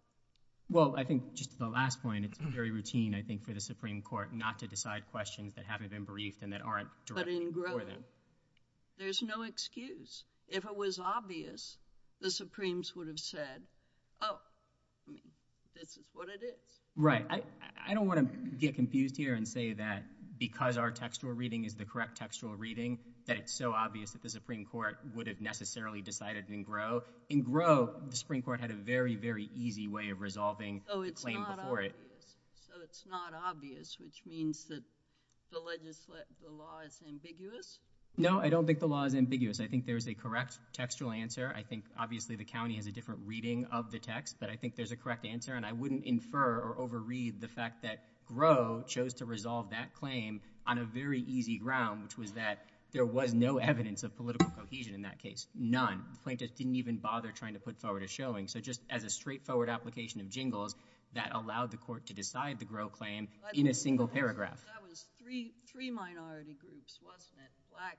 Well, I think, just to the last point, it's very routine, I think, for the Supreme Court not to decide questions that haven't been briefed and that aren't directed for them. But in grow, there's no excuse. If it was obvious, the Supremes would have said, oh, I mean, this is what it is. Right. I don't want to get confused here and say that because our textual reading is the correct textual reading, that it's so obvious that the Supreme Court would have necessarily decided in grow. In grow, the Supreme Court had a very, very easy way of resolving the claim before it. So it's not obvious, which means that the law is ambiguous? No, I don't think the law is ambiguous. I think there is a correct textual answer. I think, but I think there's a correct answer. And I wouldn't infer or overread the fact that grow chose to resolve that claim on a very easy ground, which was that there was no evidence of political cohesion in that case. None. The plaintiff didn't even bother trying to put forward a showing. So just as a straightforward application of jingles that allowed the court to decide the grow claim in a single paragraph. That was three minority groups, wasn't it?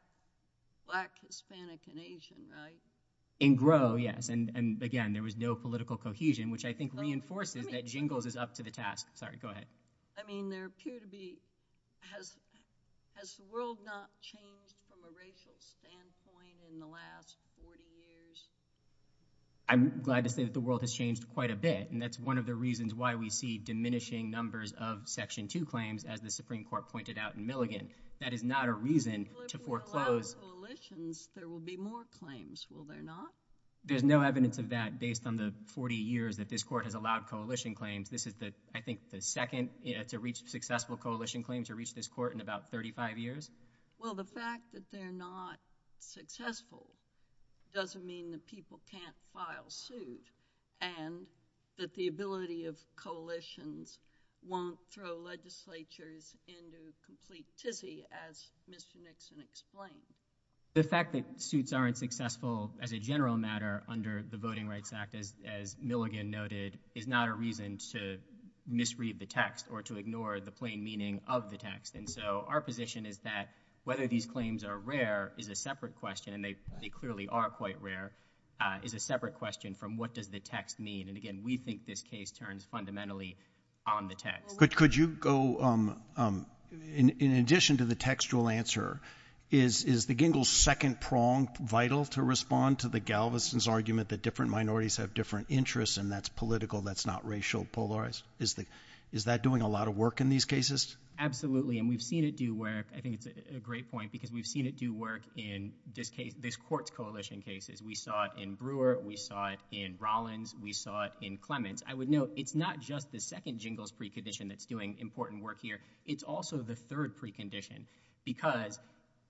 Black, Hispanic, and Asian, right? In grow, yes. And again, there was no political cohesion, which I think reinforces that jingles is up to the task. Sorry, go ahead. I mean, there appear to be, has the world not changed from a racial standpoint in the last 40 years? I'm glad to say that the world has changed quite a bit. And that's one of the reasons why we see diminishing numbers of section two claims, as the Supreme Court pointed out in Milligan. That is not a reason to foreclose. Without coalitions, there will be more claims, will there not? There's no evidence of that based on the 40 years that this court has allowed coalition claims. This is the, I think, the second to reach successful coalition claim to reach this court in about 35 years. Well, the fact that they're not successful doesn't mean that people can't file suit. And that the ability of coalitions won't throw legislatures into complete tizzy, as Mr. Nixon explained. The fact that suits aren't successful as a general matter under the Voting Rights Act, as Milligan noted, is not a reason to misread the text or to ignore the plain meaning of the text. And so our position is that whether these claims are rare is a separate question. And they clearly are quite rare, is a separate question from what does the text mean? And again, we think this case turns fundamentally on the text. Could you go, in addition to the textual answer, is the Gingell's second prong vital to respond to the Galveston's argument that different minorities have different interests and that's political, that's not racial polarized? Is that doing a lot of work in these cases? Absolutely. And we've seen it do work. I think it's a great point because we've seen it do work in this court's coalition cases. We saw it in Brewer. We saw it in Rollins. We saw it in Clements. I would note it's not just the second Gingell's precondition that's doing important work here. It's also the third precondition because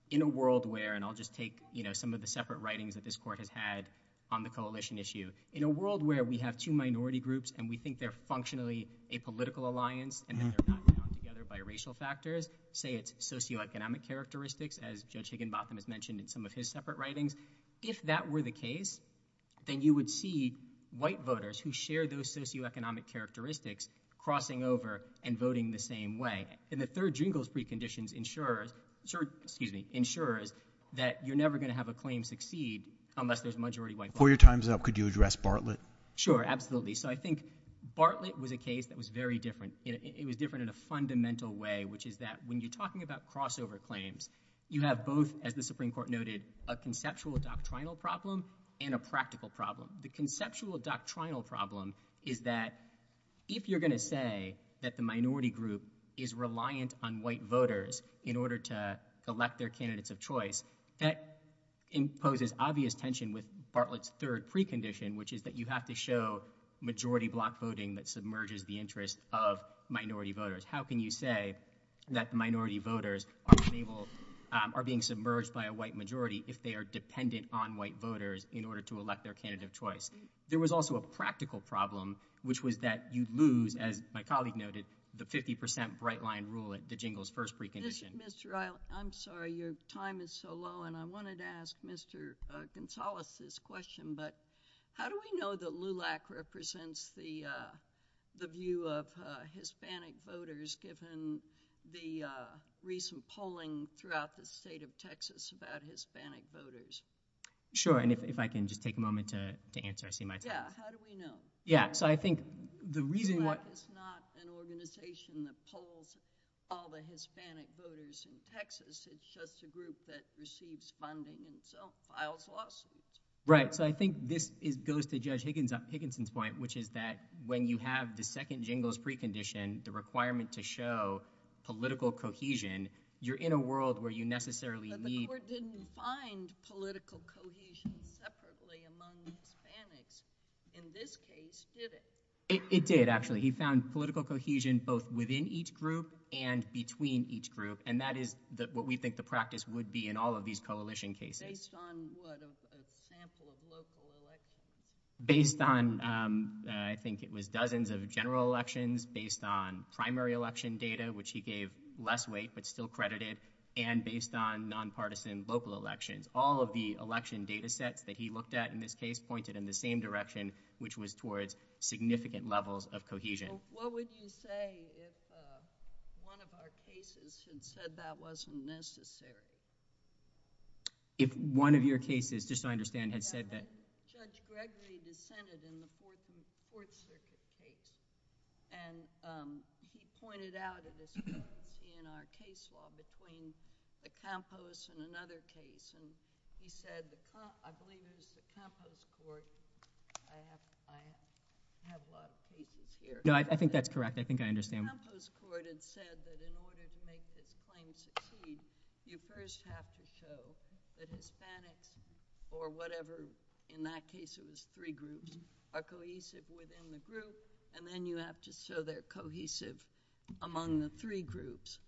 in a world where, and I'll just take, you know, some of the separate writings that this court has had on the coalition issue. In a world where we have two minority groups and we think they're functionally a political alliance and that they're not bound together by racial factors, say it's socioeconomic characteristics, as Judge Higginbotham has mentioned in some of his separate writings. If that were the case, then you would see white voters who share those socioeconomic characteristics crossing over and voting the same way. And the third Gingell's preconditions ensures that you're never going to have a claim succeed unless there's majority white voters. Before your time's up, could you address Bartlett? Sure, absolutely. So I think Bartlett was a case that was very different. It was different in a fundamental way, which is that when you're talking about crossover claims, you have both, as the Supreme Court noted, a conceptual doctrinal problem and a practical problem. The conceptual doctrinal problem is that if you're going to say that the minority group is reliant on white voters in order to elect their candidates of choice, that imposes obvious tension with Bartlett's third precondition, which is that you have to show majority block voting that submerges the interest of minority voters. How can you say that minority voters are being submerged by a white majority if they are dependent on white voters in order to elect their candidate of choice? There was also a practical problem, which was that you lose, as my colleague noted, the 50% bright line rule at the Gingell's first precondition. Mr. Eilert, I'm sorry your time is so low, and I wanted to ask Mr. Gonzalez this question, but how do we know that LULAC represents the view of Hispanic voters given the recent polling throughout the state of Texas about Hispanic voters? Sure, and if I can just take a moment to answer, I see my time. Yeah, how do we know? Yeah, so I think the reason why- LULAC is not an organization that polls all the Hispanic voters in Texas. It's just a group that receives funding and so files lawsuits. Right, so I think this goes to Judge Higginson's point, which is that when you have the second Gingell's precondition, the requirement to show political cohesion, you're in a world where you necessarily need- But the court didn't find political cohesion separately among Hispanics in this case, did it? It did, actually. He found political cohesion both within each group and between each group, and that is what we think the practice would be in all of these coalition cases. Based on what, a sample of local elections? Based on, I think it was dozens of general elections, based on primary election data, which he gave less weight but still credited, and based on nonpartisan local elections. All of the election data sets that he looked at in this case pointed in the same direction, which was towards significant levels of cohesion. What would you say if one of our cases had said that wasn't necessary? If one of your cases, just so I understand, had said that- Judge Gregory dissented in the 14th Court Circuit case, and he pointed out in our case law between Acampos and another case, and he said, I believe it was the Acampos Court. I have a lot of cases here. No, I think that's correct. I think I understand. Acampos Court had said that in order to make this claim succeed, you first have to show that Hispanics or whatever, in that case it was three groups, are cohesive within the group, and then you have to show they're cohesive among the three groups.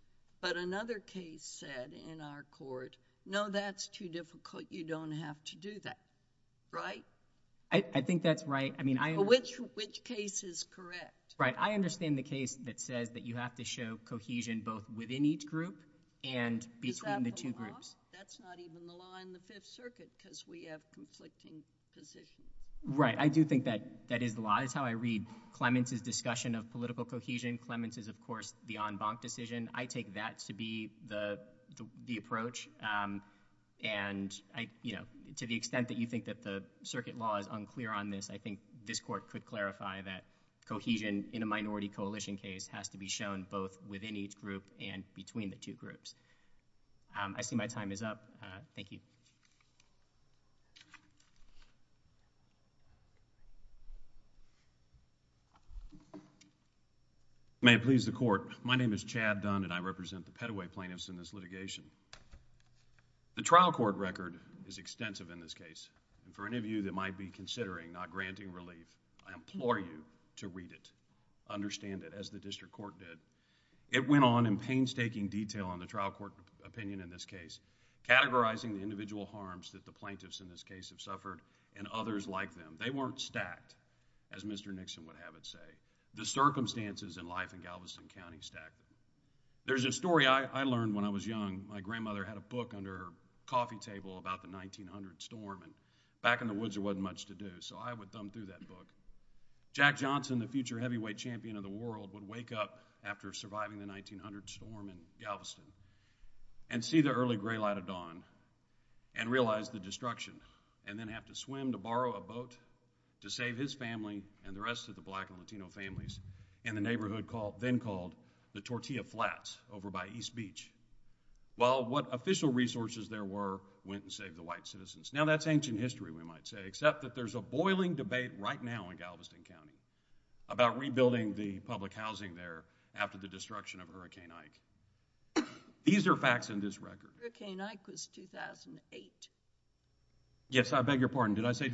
But another case said in our court, no, that's too difficult. You don't have to do that, right? I think that's right. I mean, I- Which case is correct? Right. I understand the case that says that you have to show cohesion both within each group and between the two groups. Is that the law? That's not even the law in the Fifth Circuit, because we have conflicting positions. Right. I do think that is the law. That's how I read Clements' discussion of political cohesion. Clements is, of course, the en banc decision. I take that to be the approach, and to the extent that you think that the circuit law is unclear on this, I think this Court could clarify that cohesion in a minority coalition case has to be shown both within each group and between the two groups. I see my time is up. Thank you. May it please the Court. My name is Chad Dunn, and I represent the Petaway plaintiffs in this litigation. The trial court record is extensive in this case. For any of you that might be considering not granting relief, I implore you to read it, understand it as the district court did. It went on in painstaking detail on the trial court opinion in this case, categorizing the individual harms that the plaintiffs in this case have suffered and others like them. They weren't stacked, as Mr. Nixon would have it say. The circumstances in life in Galveston County stacked. There's a story I learned when I was young. My grandmother had a book under her coffee table about the 1900 storm, and back in the woods there wasn't much to do, so I would thumb through that book. Jack Johnson, the future heavyweight champion of the world, would wake up after surviving the 1900 storm in Galveston and see the early gray light of dawn and realize the destruction, and then have to swim to borrow a boat to save his family and the rest of the black and Latino families in the neighborhood then called the Tortilla Flats over by East Beach. Well, what official resources there were went and saved the white citizens. Now, that's ancient history, we might say, except that there's a boiling debate right now in Galveston County about rebuilding the public housing there after the destruction of Hurricane Ike. These are facts in this record. Hurricane Ike was 2008. Yes, I beg your pardon. Did I say?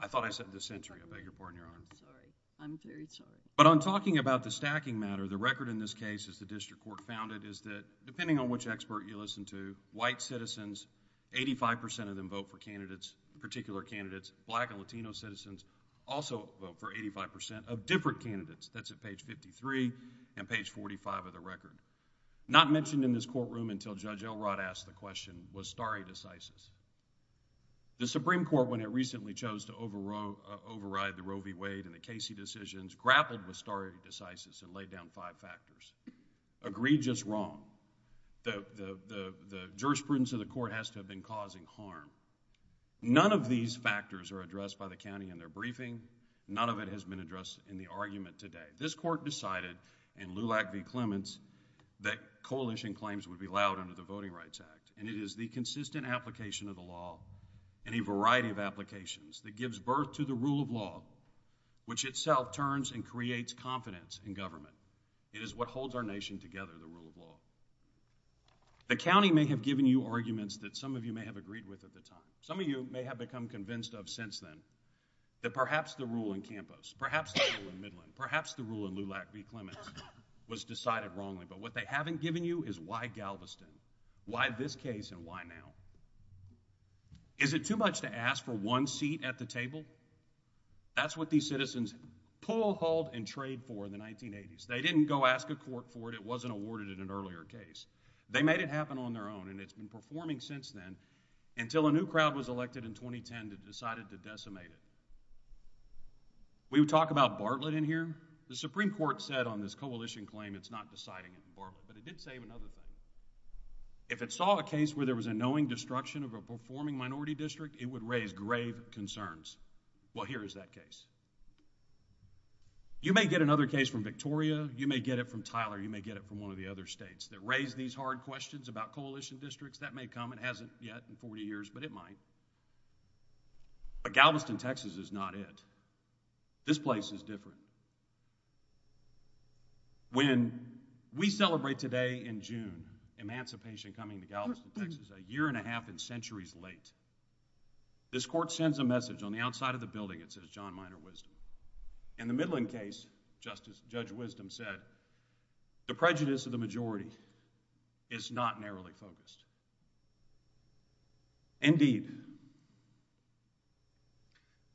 I thought I said the century. I beg your pardon, Your Honor. Sorry. I'm very sorry. But on talking about the stacking matter, the record in this case, as the district court found it, is that depending on which expert you listen to, white citizens, 85 percent of them vote for candidates, particular candidates. Black and Latino citizens also vote for 85 percent of different candidates. That's at page 53 and page 45 of the record. Not mentioned in this courtroom until Judge Elrod asked the question, was Starry decisive? The Supreme Court, when it recently chose to override the Roe v. Wade and the Casey decisions, grappled with Starry decisive and laid down five factors. Agreed, just wrong. The jurisprudence of the court has to have been causing harm. None of these factors are addressed by the county in their briefing. None of it has been addressed in the argument today. This court decided in Lulac v. Clements that coalition claims would be allowed under the Voting Rights Act. And it is the consistent application of the law and a variety of applications that gives birth to the rule of law, which itself turns and creates confidence in government. It is what holds our nation together, the rule of law. The county may have given you arguments that some of you may have agreed with at the time. Some of you may have become convinced of since then that perhaps the rule in Campos, perhaps the rule in Midland, perhaps the rule in Lulac v. Clements was decided wrongly. But what they haven't given you is why Galveston? Why this case and why now? Is it too much to ask for one seat at the table? That's what these citizens pull, hold, and trade for in the 1980s. They didn't go ask a court for it. It wasn't awarded in an earlier case. They made it happen on their own. And it's been performing since then until a new crowd was elected in 2010 that decided to decimate it. We would talk about Bartlett in here. The Supreme Court said on this coalition claim it's not deciding it for Bartlett, but it did say another thing. If it saw a case where there was a knowing destruction of a performing minority district, it would raise grave concerns. Well, here is that case. You may get another case from Victoria. You may get it from Tyler. You may get it from one of the other states that raise these hard questions about coalition districts. That may come. It hasn't yet in 40 years, but it might. But Galveston, Texas is not it. This place is different. When we celebrate today in June, emancipation coming to Galveston, Texas, a year and a half and centuries late, this court sends a message on the outside of the building. It says, John Minor Wisdom. In the Midland case, Judge Wisdom said, the prejudice of the majority is not narrowly focused. Indeed,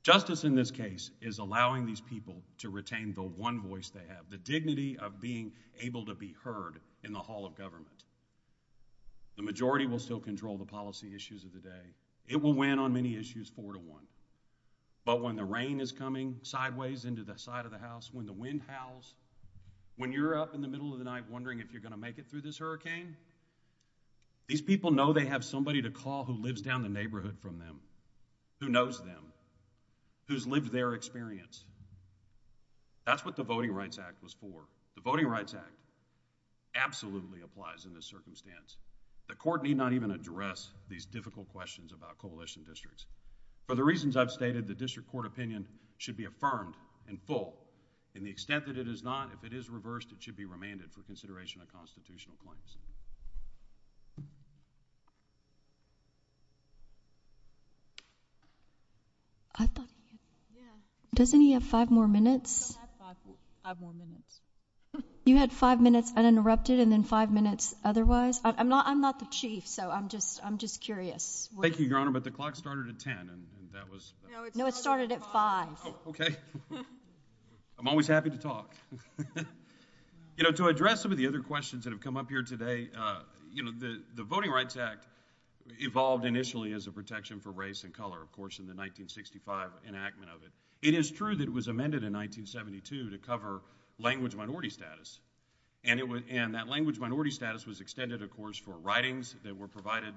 justice in this case is allowing these people to retain the one voice they have, the dignity of being able to be heard in the hall of government. The majority will still control the policy issues of the day. It will win on many issues four to one, but when the rain is coming sideways into the side of the house, when the wind howls, when you're up in the middle of the night wondering if you're going to make it through this hurricane, these people are going to have a hard time If people know they have somebody to call who lives down the neighborhood from them, who knows them, who's lived their experience, that's what the Voting Rights Act was for. The Voting Rights Act absolutely applies in this circumstance. The court need not even address these difficult questions about coalition districts. For the reasons I've stated, the district court opinion should be affirmed and full in the extent that it is not. If it is reversed, it should be remanded for consideration of constitutional claims. I thought, yeah, doesn't he have five more minutes? Five more minutes. You had five minutes uninterrupted and then five minutes otherwise. I'm not, I'm not the chief, so I'm just, I'm just curious. Thank you, Your Honor, but the clock started at 10 and that was. No, it started at five. Okay, I'm always happy to talk. You know, to address some of the other questions that have come up here today, you know, the Voting Rights Act evolved initially as a protection for race and color, of course, in the 1965 enactment of it. It is true that it was amended in 1972 to cover language minority status and it was, and that language minority status was extended, of course, for writings that were provided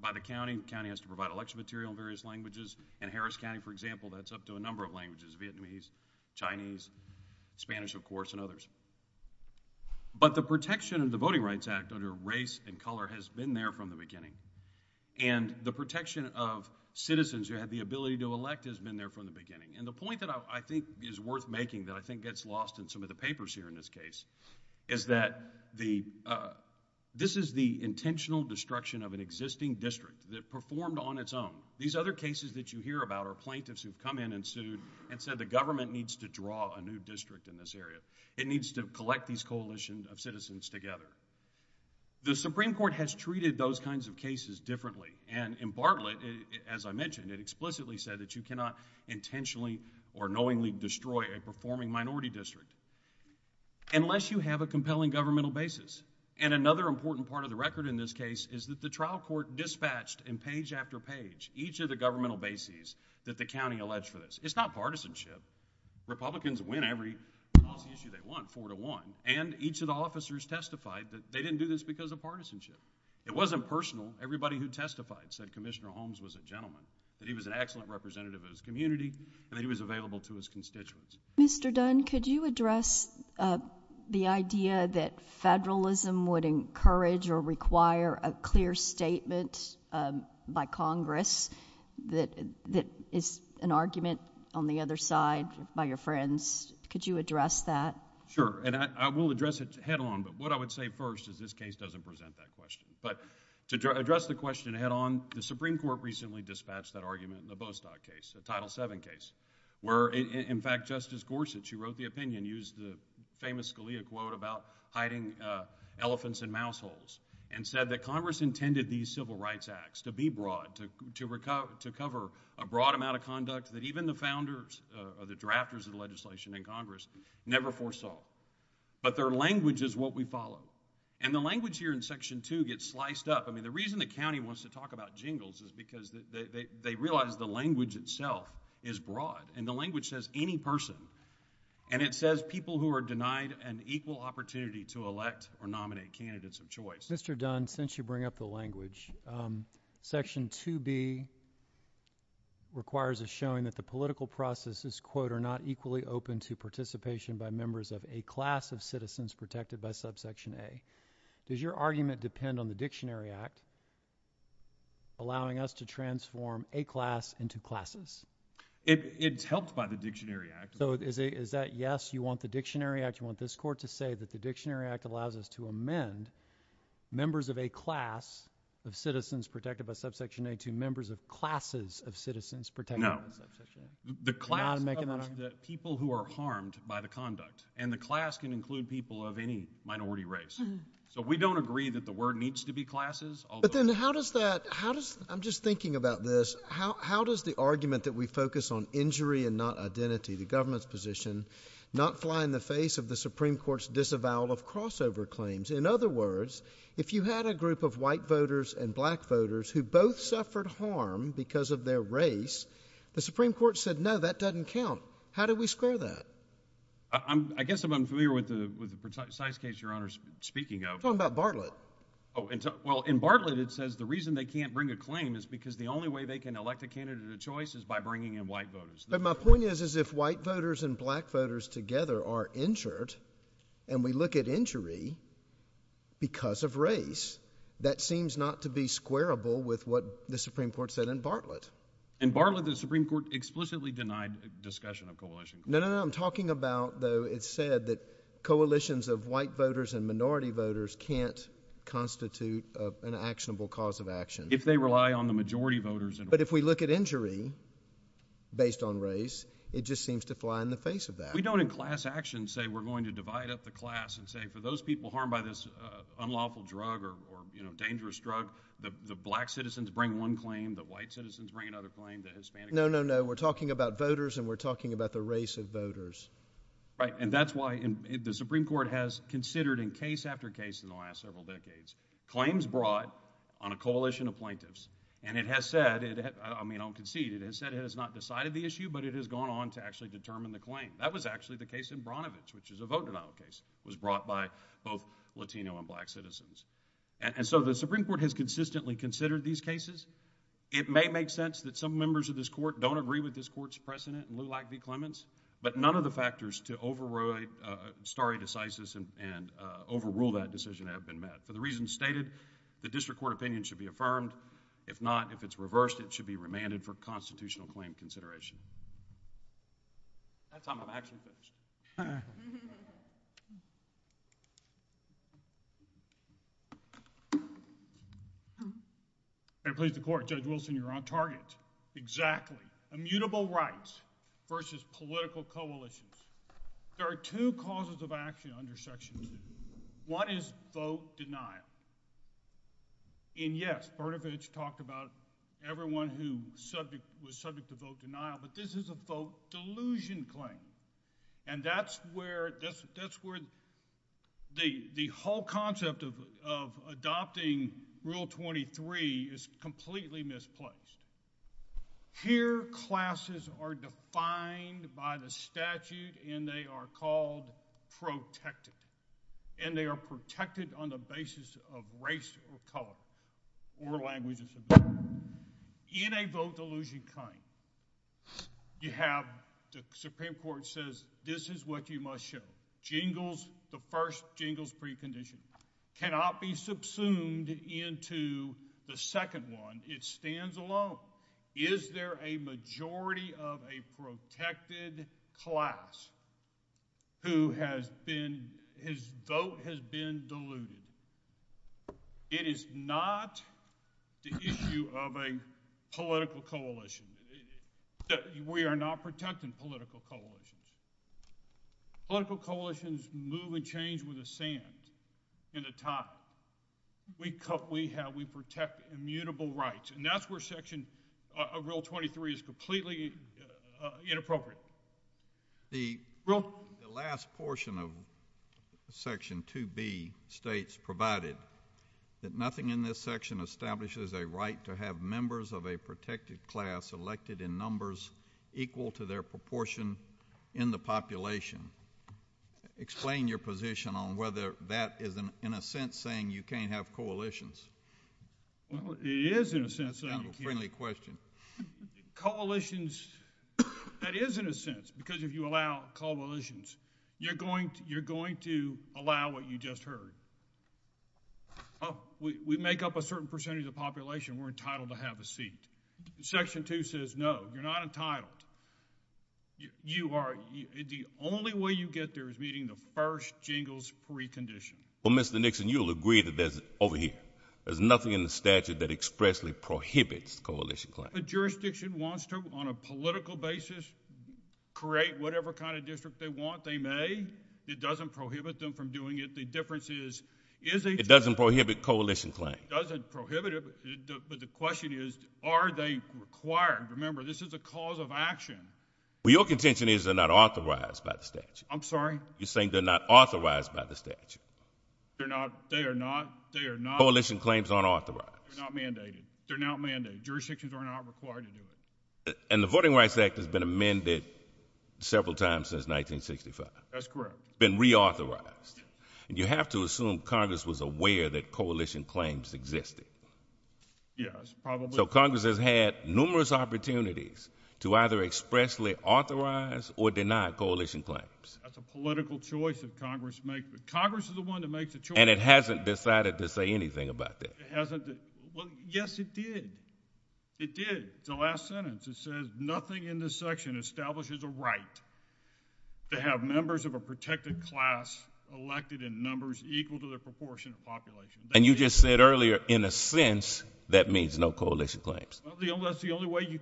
by the county. The county has to provide election material in various languages. In Harris County, for example, that's up to a number of languages, Vietnamese, Chinese, Spanish, of course, and others. But the protection of the Voting Rights Act under race and color has been there from the beginning and the protection of citizens who have the ability to elect has been there from the beginning. And the point that I think is worth making that I think gets lost in some of the papers here in this case is that the, this is the intentional destruction of an existing district that performed on its own. These other cases that you hear about are plaintiffs who've come in and sued and said the government needs to draw a new district in this area. It needs to collect these coalitions of citizens together. The Supreme Court has treated those kinds of cases differently. And in Bartlett, as I mentioned, it explicitly said that you cannot intentionally or knowingly destroy a performing minority district unless you have a compelling governmental basis. And another important part of the record in this case is that the trial court dispatched in page after page each of the governmental bases that the county alleged for this. It's not partisanship. Republicans win every policy issue they want four to one. And each of the officers testified that they didn't do this because of partisanship. It wasn't personal. Everybody who testified said Commissioner Holmes was a gentleman, that he was an excellent representative of his community, and that he was available to his constituents. Mr. Dunn, could you address the idea that federalism would encourage or require a clear statement by Congress that is an argument on the other side by your friends? Could you address that? Sure. And I will address it head on. But what I would say first is this case doesn't present that question. But to address the question head on, the Supreme Court recently dispatched that argument in the Bostock case, the Title VII case, where, in fact, Justice Gorsuch, who wrote the opinion, used the famous Scalia quote about hiding elephants in mouse holes and said that Congress intended these Civil Rights Acts to be broad, to cover a broad amount of conduct that even the founders or the drafters of the legislation in Congress never foresaw. But their language is what we follow. And the language here in Section 2 gets sliced up. I mean, the reason the county wants to talk about jingles is because they realize the language itself is broad. And the language says any person. And it says people who are denied an equal opportunity to elect or nominate candidates of choice. Mr. Dunn, since you bring up the language, Section 2B requires a showing that the political processes, quote, are not equally open to participation by members of a class of citizens protected by Subsection A. Does your argument depend on the Dictionary Act allowing us to transform a class into classes? It's helped by the Dictionary Act. So is that yes, you want the Dictionary Act, you want this Court to say that the Dictionary Act allows us to amend members of a class of citizens protected by Subsection A to members of classes of citizens protected by Subsection A? No. The class covers the people who are harmed by the conduct. And the class can include people of any minority race. So we don't agree that the word needs to be classes. But then how does that, how does, I'm just thinking about this, how does the argument that we focus on injury and not identity, the government's position, not fly in the In other words, if you had a group of white voters and black voters who both suffered harm because of their race, the Supreme Court said, no, that doesn't count. How do we square that? I guess I'm unfamiliar with the precise case, Your Honor, speaking of. I'm talking about Bartlett. Oh, well, in Bartlett, it says the reason they can't bring a claim is because the only way they can elect a candidate of choice is by bringing in white voters. But my point is, is if white voters and black voters together are injured, and we look at injury because of race, that seems not to be squarable with what the Supreme Court said in Bartlett. In Bartlett, the Supreme Court explicitly denied discussion of coalition. No, no, no. I'm talking about, though, it's said that coalitions of white voters and minority voters can't constitute an actionable cause of action. If they rely on the majority voters. But if we look at injury based on race, it just seems to fly in the face of that. We don't, in class action, say we're going to divide up the class and say, for those people harmed by this unlawful drug or, you know, dangerous drug, the black citizens bring one claim, the white citizens bring another claim, the Hispanic... No, no, no. We're talking about voters, and we're talking about the race of voters. Right. And that's why the Supreme Court has considered in case after case in the last several decades claims brought on a coalition of plaintiffs. And it has said, I mean, I'll concede, it has said it has not decided the issue, but it has gone on to actually determine the claim. That was actually the case in Branovich, which is a vote denial case. It was brought by both Latino and black citizens. And so, the Supreme Court has consistently considered these cases. It may make sense that some members of this Court don't agree with this Court's precedent in Lulac v. Clements, but none of the factors to override stare decisis and overrule that decision have been met. For the reasons stated, the district court opinion should be affirmed. If not, if it's reversed, it should be remanded for constitutional claim consideration. At that time, I'm actually finished. I'm pleased to report, Judge Wilson, you're on target. Exactly. Immutable rights versus political coalitions. There are two causes of action on your sections. One is vote denial. And yes, Branovich talked about everyone who was subject to vote denial, but this is a vote delusion claim. And that's where the whole concept of adopting Rule 23 is completely misplaced. Here, classes are defined by the statute and they are called protected. And they are protected on the basis of race or color or language. In a vote delusion claim, you have the Supreme Court says, this is what you must show. Jingles, the first jingles precondition cannot be subsumed into the second one. It stands alone. Is there a majority of a protected class who has been, his vote has been deluded? It is not the issue of a political coalition. We are not protecting political coalitions. Political coalitions move and change with the sand in the tide. We protect immutable rights. And that's where Section of Rule 23 is completely inappropriate. The last portion of Section 2B states provided that nothing in this section establishes a right to have members of a protected class elected in numbers equal to their proportion in the population. Explain your position on whether that is in a sense saying you can't have coalitions. Well, it is in a sense. That's a friendly question. Coalitions, that is in a sense, because if you allow coalitions, you're going to allow what you just heard. We make up a certain percentage of the population, we're entitled to have a seat. Section 2 says, no, you're not entitled. You are, the only way you get there is meeting the first jingles precondition. Well, Mr. Nixon, you'll agree that there's, over here, there's nothing in the statute that expressly prohibits coalition claims. The jurisdiction wants to, on a political basis, create whatever kind of district they want. They may. It doesn't prohibit them from doing it. The difference is, it doesn't prohibit coalition claims. It doesn't prohibit it, but the question is, are they required? Remember, this is a cause of action. Well, your contention is they're not authorized by the statute. I'm sorry? You're saying they're not authorized by the statute. They're not. They are not. They are not. Coalition claims aren't authorized. They're not mandated. They're not mandated. Jurisdictions are not required to do it. And the Voting Rights Act has been amended several times since 1965. That's correct. Been reauthorized. You have to assume Congress was aware that coalition claims existed. Yes, probably. So Congress has had numerous opportunities to either expressly authorize or deny coalition claims. That's a political choice that Congress makes. Congress is the one that makes the choice. And it hasn't decided to say anything about that. It hasn't. Well, yes, it did. It did. It's the last sentence. It says, nothing in this section establishes a right to have members of a protected class elected in numbers equal to their proportion of population. And you just said earlier, in a sense, that means no coalition claims. Well, that's the only way you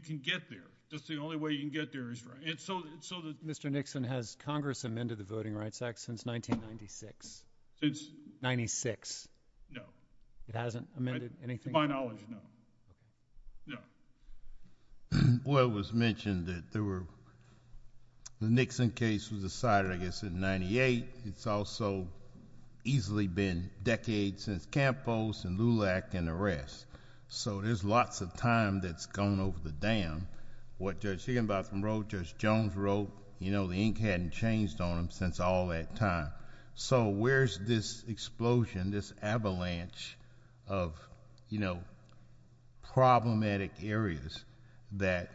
can get there. That's the only way you can get there. So Mr. Nixon, has Congress amended the Voting Rights Act since 1996? Since... 96. No. It hasn't amended anything? To my knowledge, no. No. Well, it was mentioned that there were... the Nixon case was decided, I guess, in 98. It's also easily been decades since Campos and Lulac and the rest. So there's lots of time that's gone over the dam. What Judge Higginbotham wrote, Judge Jones wrote, the ink hadn't changed on them since all that time. So where's this explosion, this avalanche of problematic areas that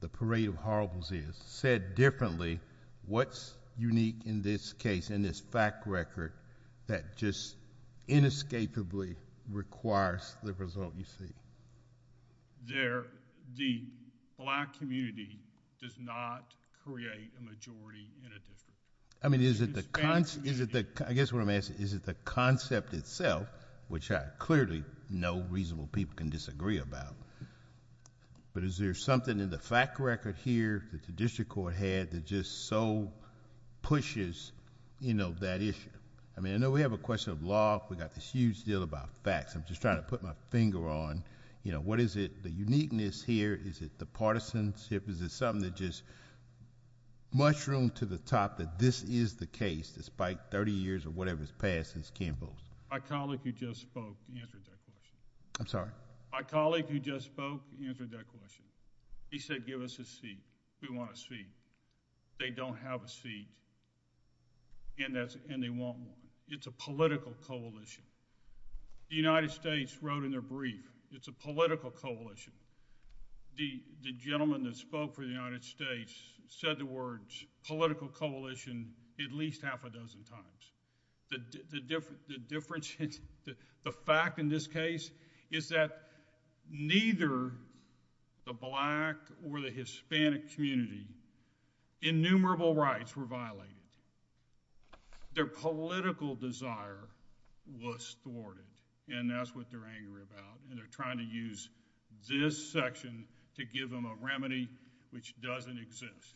the Parade of Horribles is? Said differently, what's unique in this case, in this fact record, that just inescapably requires the result you seek? There... the black community does not create a majority in a district. I mean, is it the... It's the entire community... I guess what I'm asking, is it the concept itself, which I clearly know reasonable people can disagree about, but is there something in the fact record here that the district court had that just so pushes that issue? I mean, I know we have a question of law. We've got this huge deal about facts. I'm just trying to put my finger on, you know, what is it, the uniqueness here? Is it the partisanship? Is it something that just mushroomed to the top that this is the case, despite 30 years or whatever has passed since Kim Booth? My colleague who just spoke answered that question. I'm sorry? My colleague who just spoke answered that question. He said, give us a seat. We want a seat. They don't have a seat, and they want one. It's a political coalition. The United States wrote in their brief, it's a political coalition. The gentleman that spoke for the United States said the words, political coalition, at least half a dozen times. The difference... the fact in this case is that neither the black or the Hispanic community, innumerable rights were violated. Their political desire was thwarted, and that's what they're angry about, and they're trying to use this section to give them a remedy which doesn't exist.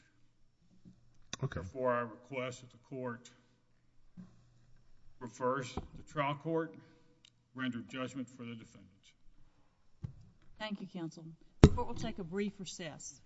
Okay. Therefore, I request that the court reverse the trial court, render judgment for the defendants. Thank you, counsel. The court will take a brief recess. Thank you.